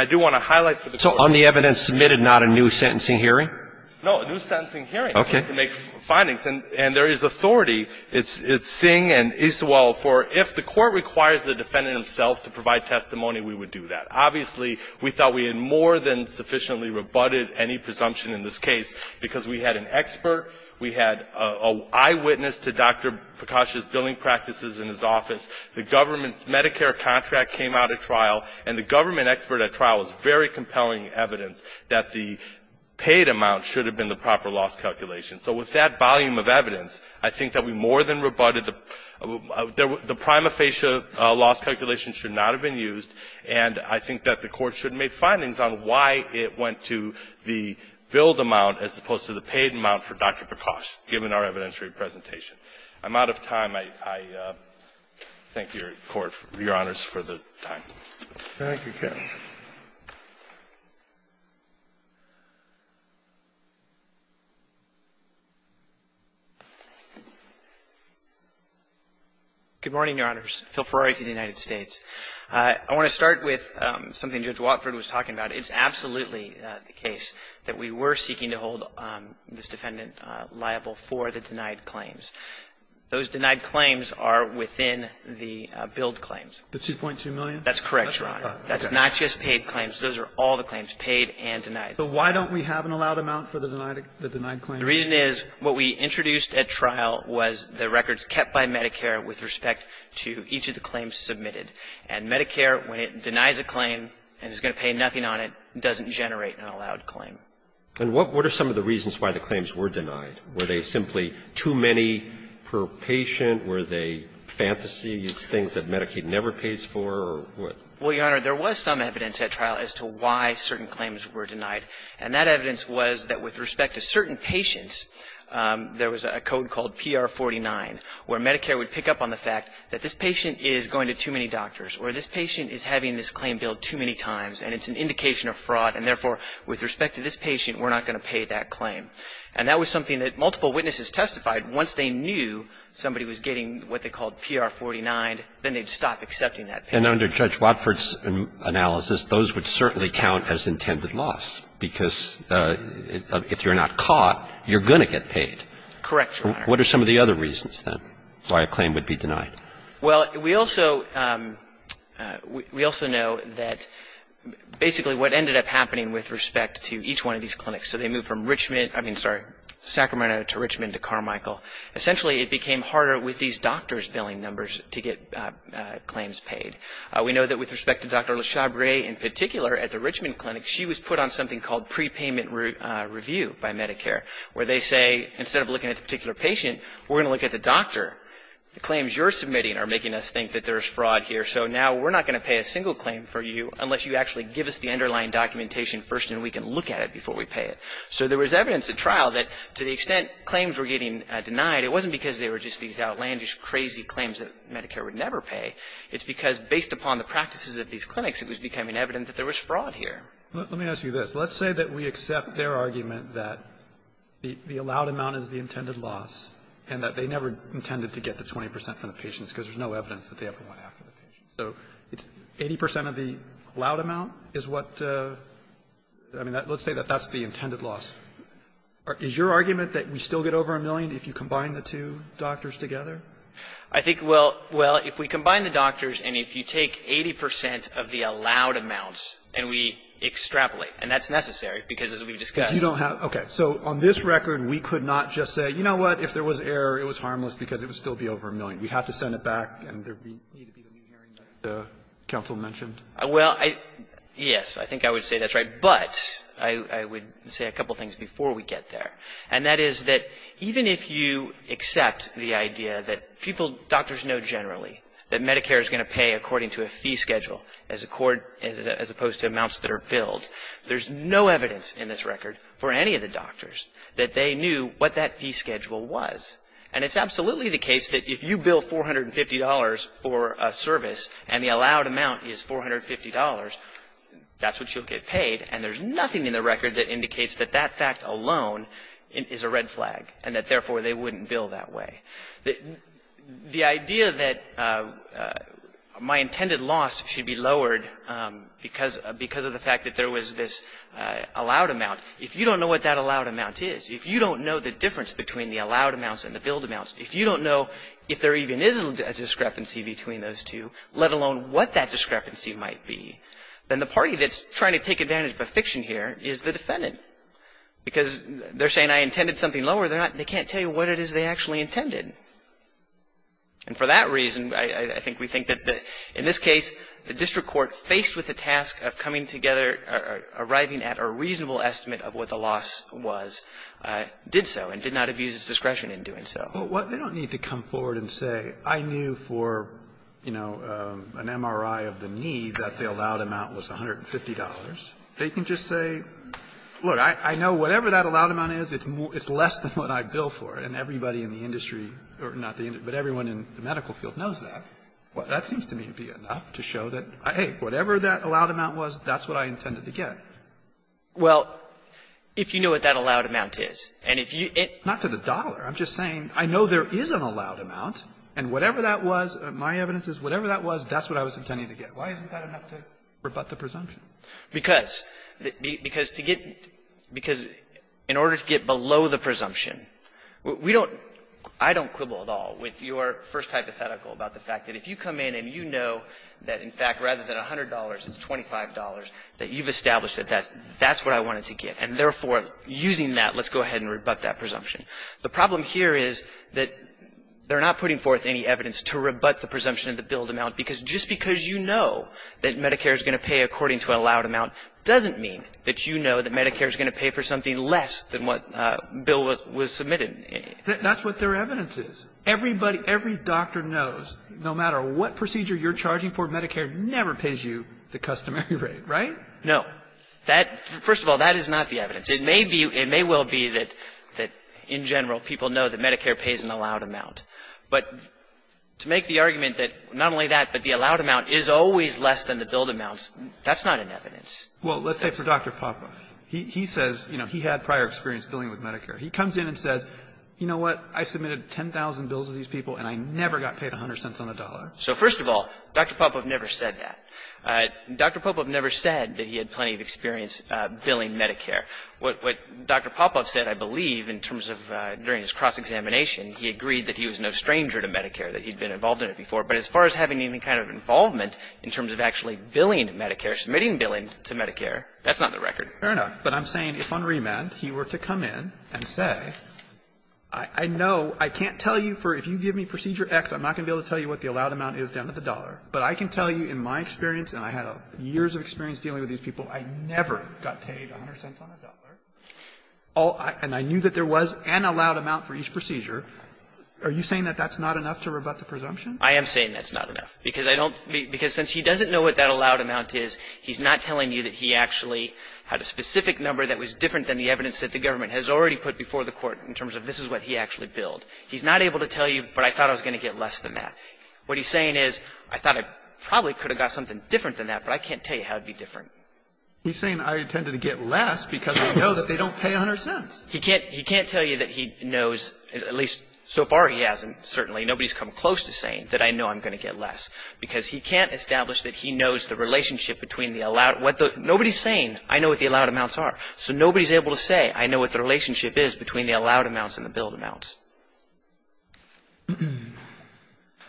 I do want to highlight for the court. So on the evidence submitted, not a new sentencing hearing? No, a new sentencing hearing. Okay. To make findings. And there is authority. It's Singh and Isawal for if the court requires the defendant himself to provide testimony, we would do that. Obviously, we thought we had more than sufficiently rebutted any presumption in this case because we had an expert, we had an eyewitness to Dr. Prakash's billing practices in his office. The government's Medicare contract came out at trial. And the government expert at trial was very compelling evidence that the paid amount should have been the proper loss calculation. So with that volume of evidence, I think that we more than rebutted the prima facie loss calculation should not have been used. And I think that the court should make findings on why it went to the billed amount as opposed to the paid amount for Dr. Prakash, given our evidentiary presentation. I'm out of time. I thank your Court, Your Honors, for the time. Thank you, counsel. Good morning, Your Honors. Phil Ferrari to the United States. I want to start with something Judge Watford was talking about. It's absolutely the case that we were seeking to hold this defendant liable for the denied claims. Those denied claims are within the billed claims. The $2.2 million? That's correct, Your Honor. That's not just paid claims. Those are all the claims, paid and denied. So why don't we have an allowed amount for the denied claims? The reason is what we introduced at trial was the records kept by Medicare with respect to each of the claims submitted. And Medicare, when it denies a claim and is going to pay nothing on it, doesn't generate an allowed claim. And what are some of the reasons why the claims were denied? Were they simply too many per patient? Were they fantasies, things that Medicaid never pays for, or what? Well, Your Honor, there was some evidence at trial as to why certain claims were denied. And that evidence was that with respect to certain patients, there was a code called PR-49, where Medicare would pick up on the fact that this patient is going to too many doctors, or this patient is having this claim billed too many times, and it's an indication of fraud, and therefore, with respect to this patient, we're not going to pay that claim. And that was something that multiple witnesses testified. Once they knew somebody was getting what they called PR-49, then they'd stop accepting that. And under Judge Watford's analysis, those would certainly count as intended loss, because if you're not caught, you're going to get paid. Correct, Your Honor. What are some of the other reasons, then, why a claim would be denied? Well, we also know that basically what ended up happening with respect to each one of these clinics, so they moved from Richmond, I mean, sorry, Sacramento to Richmond to Carmichael. Essentially, it became harder with these doctors' billing numbers to get claims paid. We know that with respect to Dr. LeShabray in particular, at the Richmond clinic, she was put on something called prepayment review by Medicare, where they say, instead of looking at the particular patient, we're going to look at the doctor. The claims you're submitting are making us think that there's fraud here, so now we're not going to pay a single claim for you unless you actually give us the underlying documentation first, and we can look at it before we pay it. So there was evidence at trial that to the extent claims were getting denied, it wasn't because they were just these outlandish, crazy claims that Medicare would never pay. It's because, based upon the practices of these clinics, it was becoming evident that there was fraud here. Let me ask you this. Let's say that we accept their argument that the allowed amount is the intended loss, and that they never intended to get the 20 percent from the patients because there's no evidence that they ever went after the patients. So it's 80 percent of the allowed amount is what the – I mean, let's say that that's the intended loss. Is your argument that we still get over a million if you combine the two doctors together? I think, well, well, if we combine the doctors and if you take 80 percent of the allowed amounts and we extrapolate, and that's necessary because, as we've discussed You don't have – okay. So on this record, we could not just say, you know what, if there was error, it was harmless because it would still be over a million. We have to send it back and there would need to be the new hearing that the counsel mentioned? Well, yes. I think I would say that's right. But I would say a couple of things before we get there. And that is that even if you accept the idea that people, doctors know generally that Medicare is going to pay according to a fee schedule as opposed to amounts that are billed, there's no evidence in this record for any of the doctors that they knew what that fee schedule was. And it's absolutely the case that if you bill $450 for a service and the allowed amount is $450, that's what you'll get paid. And there's nothing in the record that indicates that that fact alone is a red flag and that, therefore, they wouldn't bill that way. The idea that my intended loss should be lowered because of the fact that there was this allowed amount, if you don't know what that allowed amount is, if you don't know the difference between the allowed amounts and the billed amounts, if you don't know if there even is a discrepancy between those two, let alone what that discrepancy might be, then the party that's trying to take advantage of a fiction here is the defendant. Because they're saying I intended something lower, they can't tell you what it is they actually intended. And for that reason, I think we think that in this case, the district court faced with the task of coming together, arriving at a reasonable estimate of what the loss was, did so, and did not abuse its discretion in doing so. Kennedy. Well, they don't need to come forward and say, I knew for, you know, an MRI of the knee that the allowed amount was $150. They can just say, look, I know whatever that allowed amount is, it's less than what I billed for, and everybody in the industry or not the industry, but everyone in the medical field knows that. That seems to me to be enough to show that, hey, whatever that allowed amount was, that's what I intended to get. Well, if you know what that allowed amount is, and if you get to the dollar, I'm just saying I know there is an allowed amount, and whatever that was, my evidence is whatever that was, that's what I was intending to get. Why isn't that enough to rebut the presumption? Because to get to the dollar, in order to get below the presumption, we don't, I don't quibble at all with your first hypothetical about the fact that if you come in and you know that, in fact, rather than $100, it's $25, that you've established that that's what I wanted to get, and therefore, using that, let's go ahead and rebut that presumption. The problem here is that they're not putting forth any evidence to rebut the presumption of the billed amount, because just because you know that Medicare is going to pay according to an allowed amount doesn't mean that you know that Medicare is going to pay for something less than what bill was submitted. That's what their evidence is. Everybody, every doctor knows, no matter what procedure you're charging for, Medicare never pays you the customary rate, right? No. That, first of all, that is not the evidence. It may be, it may well be that in general, people know that Medicare pays an allowed amount. But to make the argument that not only that, but the allowed amount is always less than the billed amounts, that's not an evidence. Well, let's say for Dr. Popoff. He says, you know, he had prior experience billing with Medicare. He comes in and says, you know what, I submitted 10,000 bills to these people, and I never got paid 100 cents on the dollar. So first of all, Dr. Popoff never said that. Dr. Popoff never said that he had plenty of experience billing Medicare. What Dr. Popoff said, I believe, in terms of during his cross-examination, he agreed that he was no stranger to Medicare, that he'd been involved in it before. But as far as having any kind of involvement in terms of actually billing Medicare, submitting billing to Medicare, that's not the record. But I'm saying if on remand he were to come in and say, I know, I can't tell you for if you give me procedure X, I'm not going to be able to tell you what the allowed amount is down to the dollar. But I can tell you in my experience, and I had years of experience dealing with these people, I never got paid 100 cents on the dollar. And I knew that there was an allowed amount for each procedure. Are you saying that that's not enough to rebut the presumption? I am saying that's not enough, because I don't be – because since he doesn't know what that allowed amount is, he's not telling you that he actually had a specific number that was different than the evidence that the government has already put before the Court in terms of this is what he actually billed. He's not able to tell you, but I thought I was going to get less than that. What he's saying is, I thought I probably could have got something different than that, but I can't tell you how it would be different. He's saying I intended to get less because I know that they don't pay 100 cents. He can't – he can't tell you that he knows – at least so far he hasn't, certainly. Nobody's come close to saying that I know I'm going to get less, because he can't establish that he knows the relationship between the allowed – what the – nobody's saying, I know what the allowed amounts are. So nobody's able to say, I know what the relationship is between the allowed amounts and the billed amounts.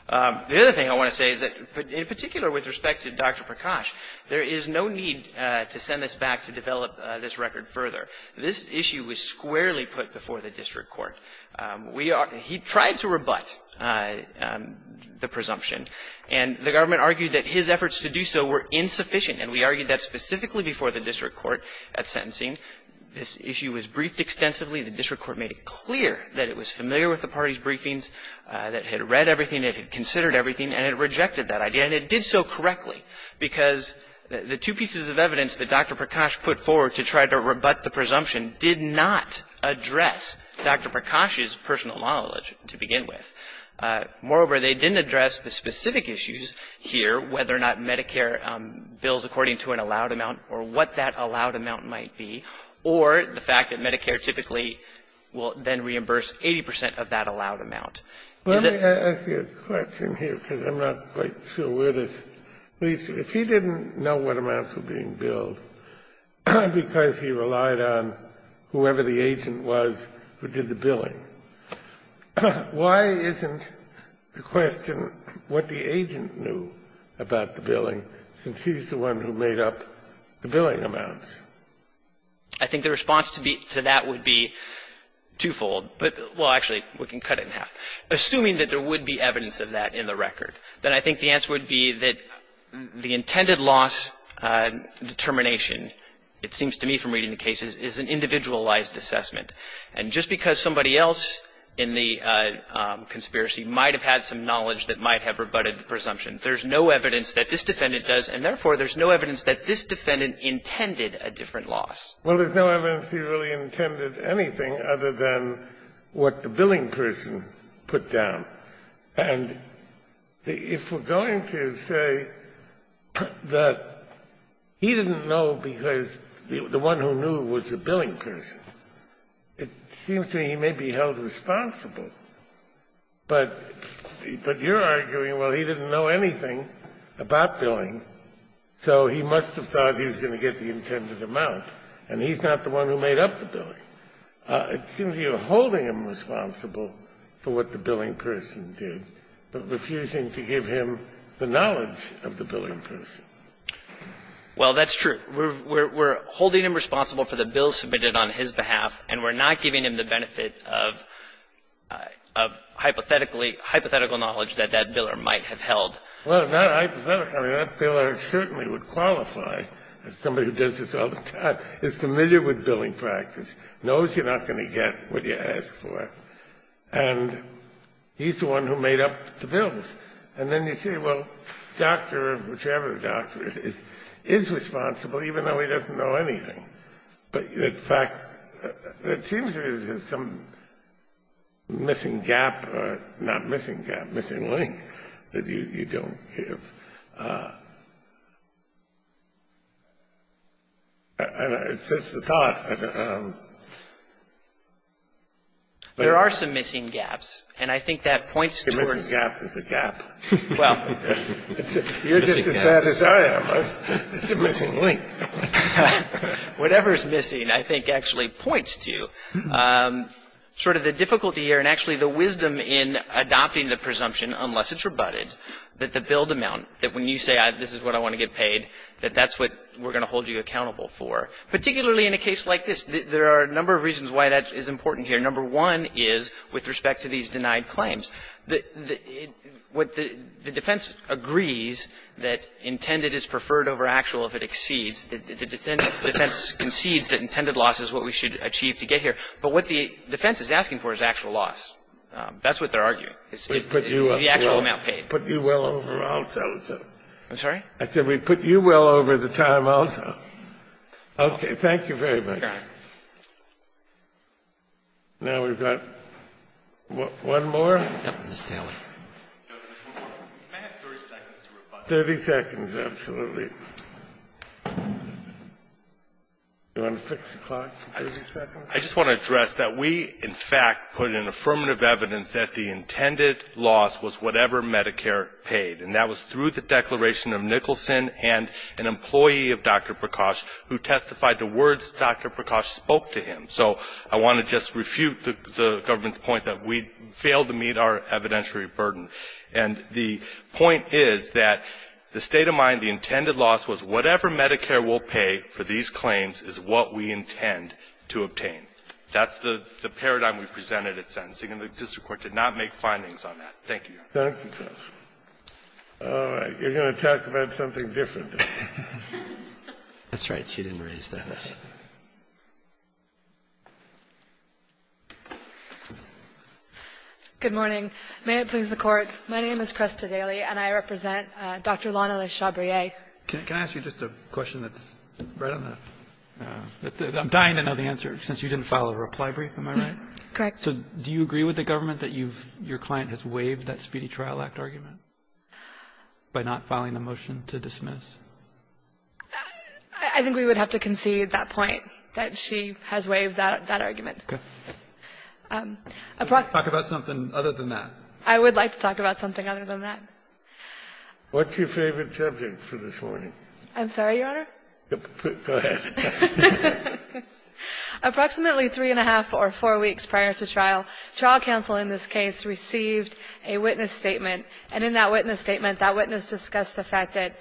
The other thing I want to say is that, in particular with respect to Dr. Prakash, there is no need to send this back to develop this record further. This issue was squarely put before the district court. We are – he tried to rebut the presumption, and the government argued that his efforts to do so were insufficient, and we argued that specifically before the district court at sentencing. This issue was briefed extensively. The district court made it clear that it was familiar with the party's briefings, that it had read everything, it had considered everything, and it rejected that idea. And it did so correctly, because the two pieces of evidence that Dr. Prakash put forward to try to rebut the presumption did not address Dr. Prakash's personal knowledge to begin with. Moreover, they didn't address the specific issues here, whether or not Medicare bills according to an allowed amount or what that allowed amount might be, or the fact that Medicare typically will then reimburse 80 percent of that allowed amount. Is it – Kennedy, I ask you a question here, because I'm not quite sure where this leads. If he didn't know what amounts were being billed, because he relied on whoever the agent was who did the billing, why isn't the question what the agent knew about the billing, since he's the one who made up the billing amounts? I think the response to that would be twofold. But – well, actually, we can cut it in half. Assuming that there would be evidence of that in the record, then I think the answer would be that the intended loss determination, it seems to me from reading the cases, is an individualized assessment. And just because somebody else in the conspiracy might have had some knowledge that might have rebutted the presumption, there's no evidence that this defendant does, and therefore, there's no evidence that this defendant intended a different loss. Well, there's no evidence he really intended anything other than what the billing person put down. And if we're going to say that he didn't know because the one who knew was the billing person, it seems to me he may be held responsible. But you're arguing, well, he didn't know anything about billing, so he must have thought he was going to get the intended amount, and he's not the one who made up the billing. It seems you're holding him responsible for what the billing person did, but refusing to give him the knowledge of the billing person. Well, that's true. We're holding him responsible for the bill submitted on his behalf, and we're not giving him the benefit of hypothetically – hypothetical knowledge that that biller might have held. Well, not hypothetical. I mean, that biller certainly would qualify, as somebody who does this all the time, is familiar with billing practice, knows you're not going to get what you ask for, and he's the one who made up the bills. And then you say, well, the doctor, whichever the doctor is, is responsible, even though he doesn't know anything. But, in fact, it seems there's some missing gap or not missing gap, missing link that you don't give. And it's just a thought. There are some missing gaps, and I think that points towards – A missing gap is a gap. Well – You're just as bad as I am. It's a missing link. Whatever's missing, I think, actually points to sort of the difficulty here, and actually the wisdom in adopting the presumption, unless it's rebutted, that the billed amount, that when you say this is what I want to get paid, that that's what we're going to hold you accountable for. Particularly in a case like this, there are a number of reasons why that is important here. Number one is with respect to these denied claims. The defense agrees that intended is preferred over actual if it exceeds. The defense concedes that intended loss is what we should achieve to get here. But what the defense is asking for is actual loss. That's what they're arguing, is the actual amount paid. We've put you well over also. I'm sorry? I said we've put you well over the time also. Okay. Thank you very much. Now we've got one more. Yes, Mr. Taylor. 30 seconds, absolutely. You want to fix the clock for 30 seconds? I just want to address that we, in fact, put in affirmative evidence that the intended loss was whatever Medicare paid. And that was through the declaration of Nicholson and an employee of Dr. Prakash who testified to words Dr. Prakash spoke to him. So I want to just refute the government's point that we failed to meet our evidentiary burden. And the point is that the state of mind, the intended loss was whatever Medicare will pay for these claims is what we intend to obtain. That's the paradigm we presented at sentencing. And the district court did not make findings on that. Thank you. Thank you, Justice. All right. You're going to talk about something different. That's right. She didn't raise that. Good morning. May it please the Court. My name is Cresta Daly, and I represent Dr. Lana Le Chabrier. Can I ask you just a question that's right on that? I'm dying to know the answer, since you didn't file a reply brief, am I right? Correct. So do you agree with the government that you've – your client has waived that Speedy Trial Act argument by not filing a motion to dismiss? I think we would have to concede that point, that she has waived that argument. Okay. Talk about something other than that. I would like to talk about something other than that. What's your favorite subject for this morning? I'm sorry, Your Honor? Go ahead. Approximately three and a half or four weeks prior to trial, trial counsel in this case received a witness statement. And in that witness statement, that witness discussed the fact that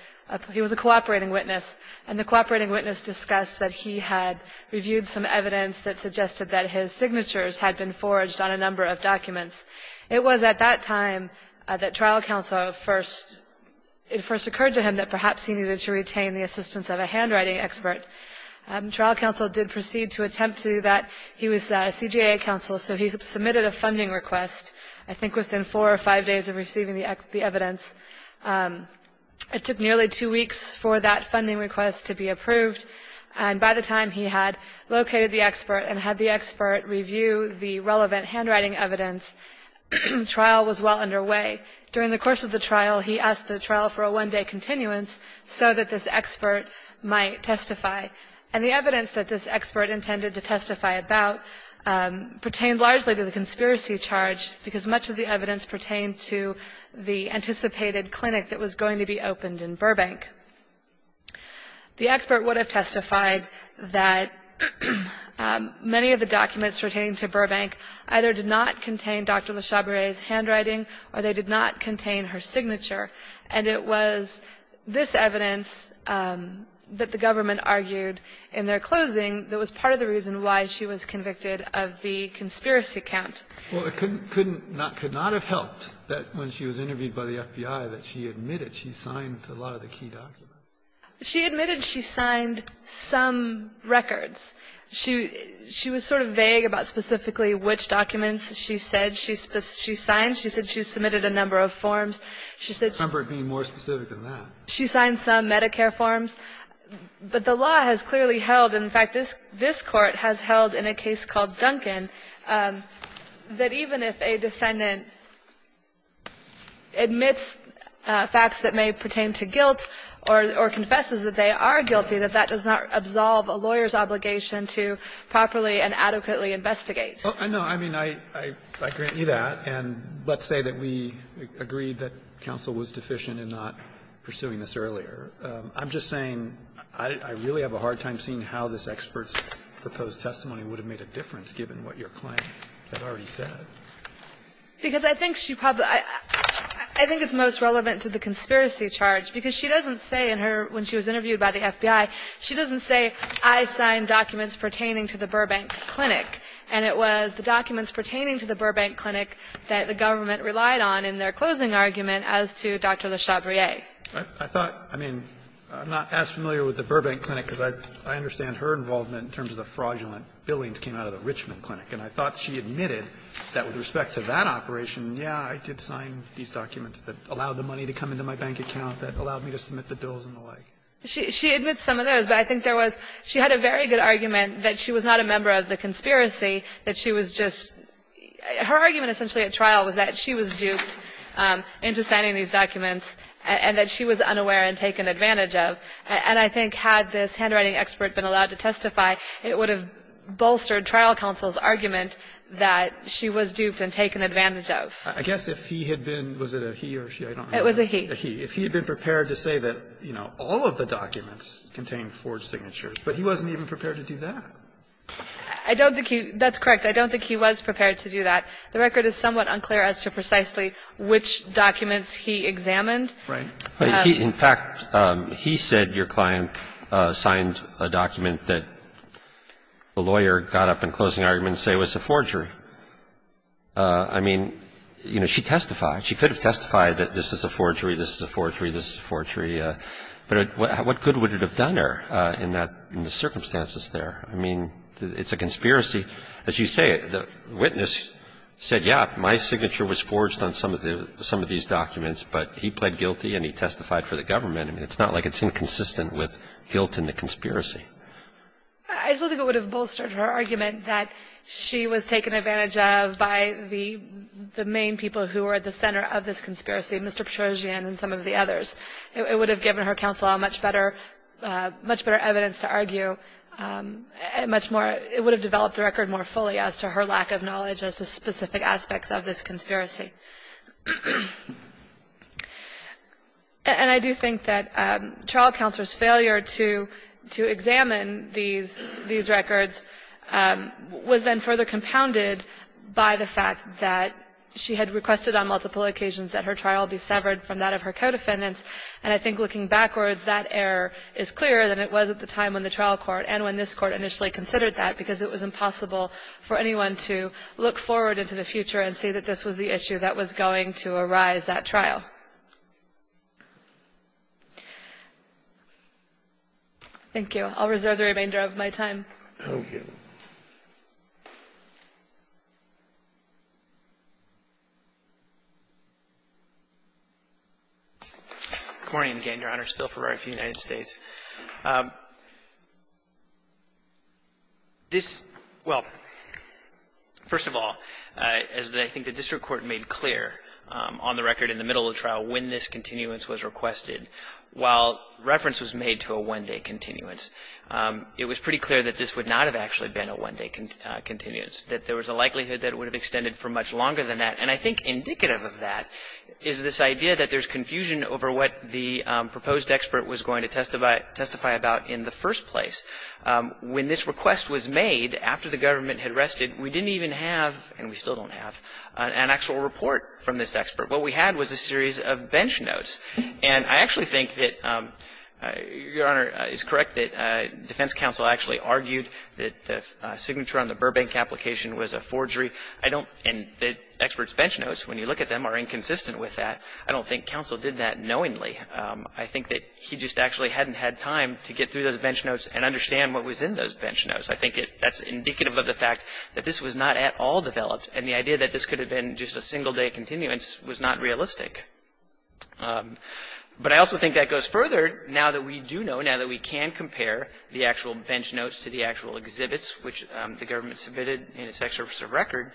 he was a cooperating witness. And the cooperating witness discussed that he had reviewed some evidence that suggested that his signatures had been forged on a number of documents. It was at that time that trial counsel first – it first occurred to him that perhaps he needed to retain the assistance of a handwriting expert. Trial counsel did proceed to attempt to do that. He was a CJA counsel, so he submitted a funding request, I think within four or five days of receiving the evidence. It took nearly two weeks for that funding request to be approved. And by the time he had located the expert and had the expert review the relevant handwriting evidence, trial was well underway. During the course of the trial, he asked the trial for a one-day continuance so that this expert might testify. And the evidence that this expert intended to testify about pertained largely to the conspiracy charge because much of the evidence pertained to the anticipated clinic that was going to be opened in Burbank. The expert would have testified that many of the documents pertaining to Burbank either did not contain Dr. Le Chabrier's handwriting or they did not contain her signature. And it was this evidence that the government argued in their closing that was part of the reason why she was convicted of the conspiracy count. Well, it couldn't – could not have helped that when she was interviewed by the FBI that she admitted she signed a lot of the key documents. She admitted she signed some records. She was sort of vague about specifically which documents she said she signed. She said she submitted a number of forms. She said she – Cumberbatch being more specific than that. She signed some Medicare forms. But the law has clearly held – and, in fact, this Court has held in a case called or confesses that they are guilty, that that does not absolve a lawyer's obligation to properly and adequately investigate. Roberts, I know, I mean, I grant you that. And let's say that we agree that counsel was deficient in not pursuing this earlier. I'm just saying I really have a hard time seeing how this expert's proposed testimony would have made a difference, given what your claim has already said. Because I think she probably – I think it's most relevant to the conspiracy charge, because she doesn't say in her – when she was interviewed by the FBI, she doesn't say, I signed documents pertaining to the Burbank Clinic. And it was the documents pertaining to the Burbank Clinic that the government relied on in their closing argument as to Dr. Le Chabrier. I thought – I mean, I'm not as familiar with the Burbank Clinic, because I understand her involvement in terms of the fraudulent billings that came out of the Richmond Clinic. And I thought she admitted that with respect to that operation, yeah, I did sign these She admits some of those, but I think there was – she had a very good argument that she was not a member of the conspiracy, that she was just – her argument essentially at trial was that she was duped into signing these documents and that she was unaware and taken advantage of. And I think had this handwriting expert been allowed to testify, it would have bolstered trial counsel's argument that she was duped and taken advantage of. I guess if he had been – was it a he or she? I don't know. It was a he. A he. If he had been prepared to say that, you know, all of the documents contained forged signatures, but he wasn't even prepared to do that. I don't think he – that's correct. I don't think he was prepared to do that. The record is somewhat unclear as to precisely which documents he examined. Right. He – in fact, he said your client signed a document that the lawyer got up in closing argument to say was a forgery. I mean, you know, she testified. She could have testified that this is a forgery. This is a forgery. This is a forgery. But what good would it have done her in that – in the circumstances there? I mean, it's a conspiracy. As you say, the witness said, yeah, my signature was forged on some of the – some of these documents, but he pled guilty and he testified for the government. I mean, it's not like it's inconsistent with guilt in the conspiracy. I don't think it would have bolstered her argument that she was taken advantage of by the main people who were at the center of this conspiracy, Mr. Petrosian and some of the others. It would have given her counsel a much better – much better evidence to argue, much more – it would have developed the record more fully as to her lack of knowledge as to specific aspects of this conspiracy. And I do think that trial counsel's failure to examine these records was then further compounded by the fact that she had requested on multiple occasions that her trial be severed from that of her co-defendants. And I think looking backwards, that error is clearer than it was at the time when the trial court and when this Court initially considered that, because it was impossible for anyone to look forward into the future and see that this was the issue that was going to arise at trial. Thank you. I'll reserve the remainder of my time. Thank you. Good morning, again, Your Honor. Phil Ferrari for the United States. This – well, first of all, as I think the district court made clear on the record in the middle of the trial when this continuance was requested, while reference was made to a one-day continuance, it was pretty clear that this would not have actually been a one-day continuance, that there was a likelihood that it would have extended for much longer than that. And I think indicative of that is this idea that there's confusion over what the proposed expert was going to testify about in the first place. When this request was made after the government had rested, we didn't even have – and we still don't have – an actual report from this expert. What we had was a series of bench notes. And I actually think that, Your Honor, it's correct that defense counsel actually argued that the signature on the Burbank application was a forgery. I don't – and the expert's bench notes, when you look at them, are inconsistent with that. I don't think counsel did that knowingly. I think that he just actually hadn't had time to get through those bench notes and understand what was in those bench notes. I think that's indicative of the fact that this was not at all developed, and the idea that this could have been just a single-day continuance was not realistic. But I also think that goes further. Now that we do know, now that we can compare the actual bench notes to the actual exhibits which the government submitted in its excerpts of record,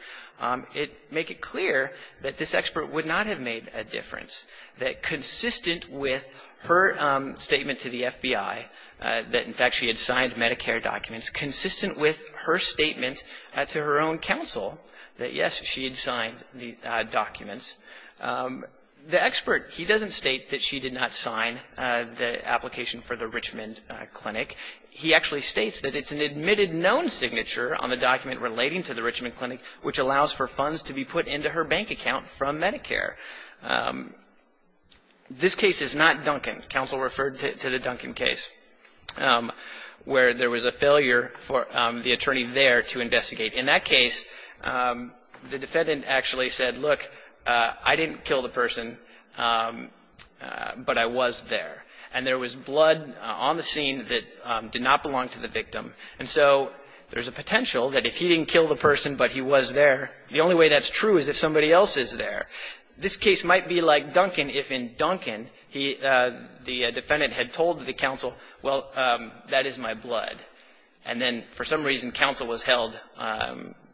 it – make it clear that this expert would not have made a difference, that consistent with her statement to the FBI that, in fact, she had signed Medicare documents, consistent with her statement to her own counsel that, yes, she had signed the documents. The expert, he doesn't state that she did not sign the application for the Richmond Clinic. He actually states that it's an admitted known signature on the document relating to the Richmond Clinic which allows for funds to be put into her bank account from Medicare. This case is not Duncan. Counsel referred to the Duncan case where there was a failure for the attorney there to investigate. In that case, the defendant actually said, look, I didn't kill the person, but I was there. And there was blood on the scene that did not belong to the victim. And so there's a potential that if he didn't kill the person but he was there, the only way that's true is if somebody else is there. This case might be like Duncan if in Duncan he – the defendant had told the counsel, well, that is my blood. And then for some reason, counsel was held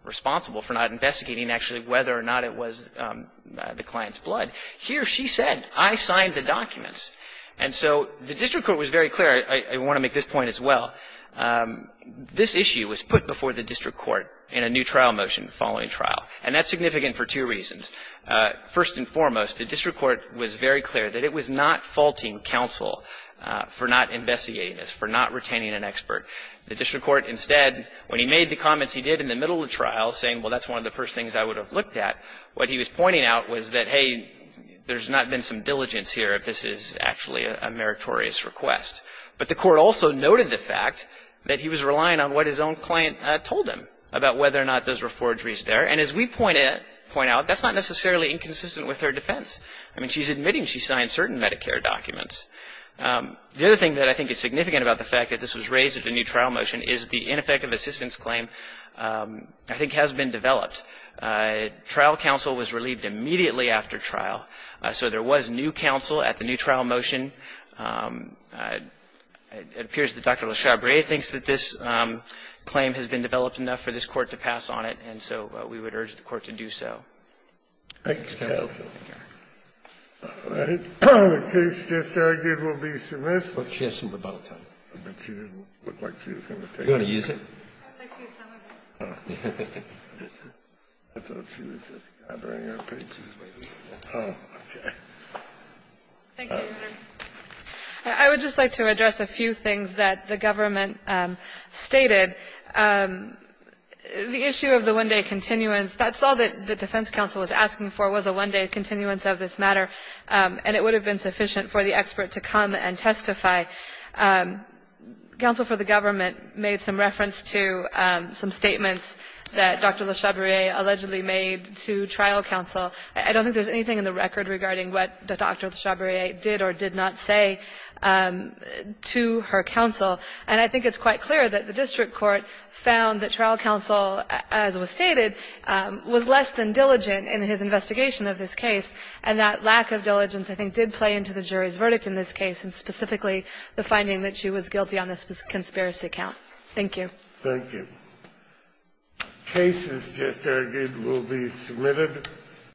responsible for not investigating actually whether or not it was the client's blood. Here she said, I signed the documents. And so the district court was very clear. I want to make this point as well. This issue was put before the district court in a new trial motion following trial. And that's significant for two reasons. First and foremost, the district court was very clear that it was not faulting counsel for not investigating this, for not retaining an expert. The district court instead, when he made the comments he did in the middle of the trial saying, well, that's one of the first things I would have looked at, what he was pointing out was that, hey, there's not been some diligence here if this is actually a meritorious request. But the court also noted the fact that he was relying on what his own client told him about whether or not those were forgeries there. And as we point out, that's not necessarily inconsistent with her defense. I mean, she's admitting she signed certain Medicare documents. The other thing that I think is significant about the fact that this was raised at a new trial motion is the ineffective assistance claim I think has been developed. Trial counsel was relieved immediately after trial. So there was new counsel at the new trial motion. It appears that Dr. Le Chabrier thinks that this claim has been developed enough for this court to pass on it. And so we would urge the court to do so. Thank you, counsel. The case just argued will be submissive. She has some rebuttal time. I bet she didn't look like she was going to take it. You want to use it? I thought she was just gathering her pages. Oh, okay. Thank you, Your Honor. I would just like to address a few things that the government stated. The issue of the one-day continuance, that's all that the defense counsel was asking for, was a one-day continuance of this matter. And it would have been sufficient for the expert to come and testify. Counsel for the government made some reference to some statements that Dr. Le Chabrier allegedly made to trial counsel. I don't think there's anything in the record regarding what Dr. Le Chabrier did or did not say to her counsel. And I think it's quite clear that the district court found that trial counsel, as was stated, was less than diligent in his investigation of this case. And that lack of diligence, I think, did play into the jury's verdict in this case, and specifically the finding that she was guilty on this conspiracy count. Thank you. Thank you. Case is just argued, will be submitted.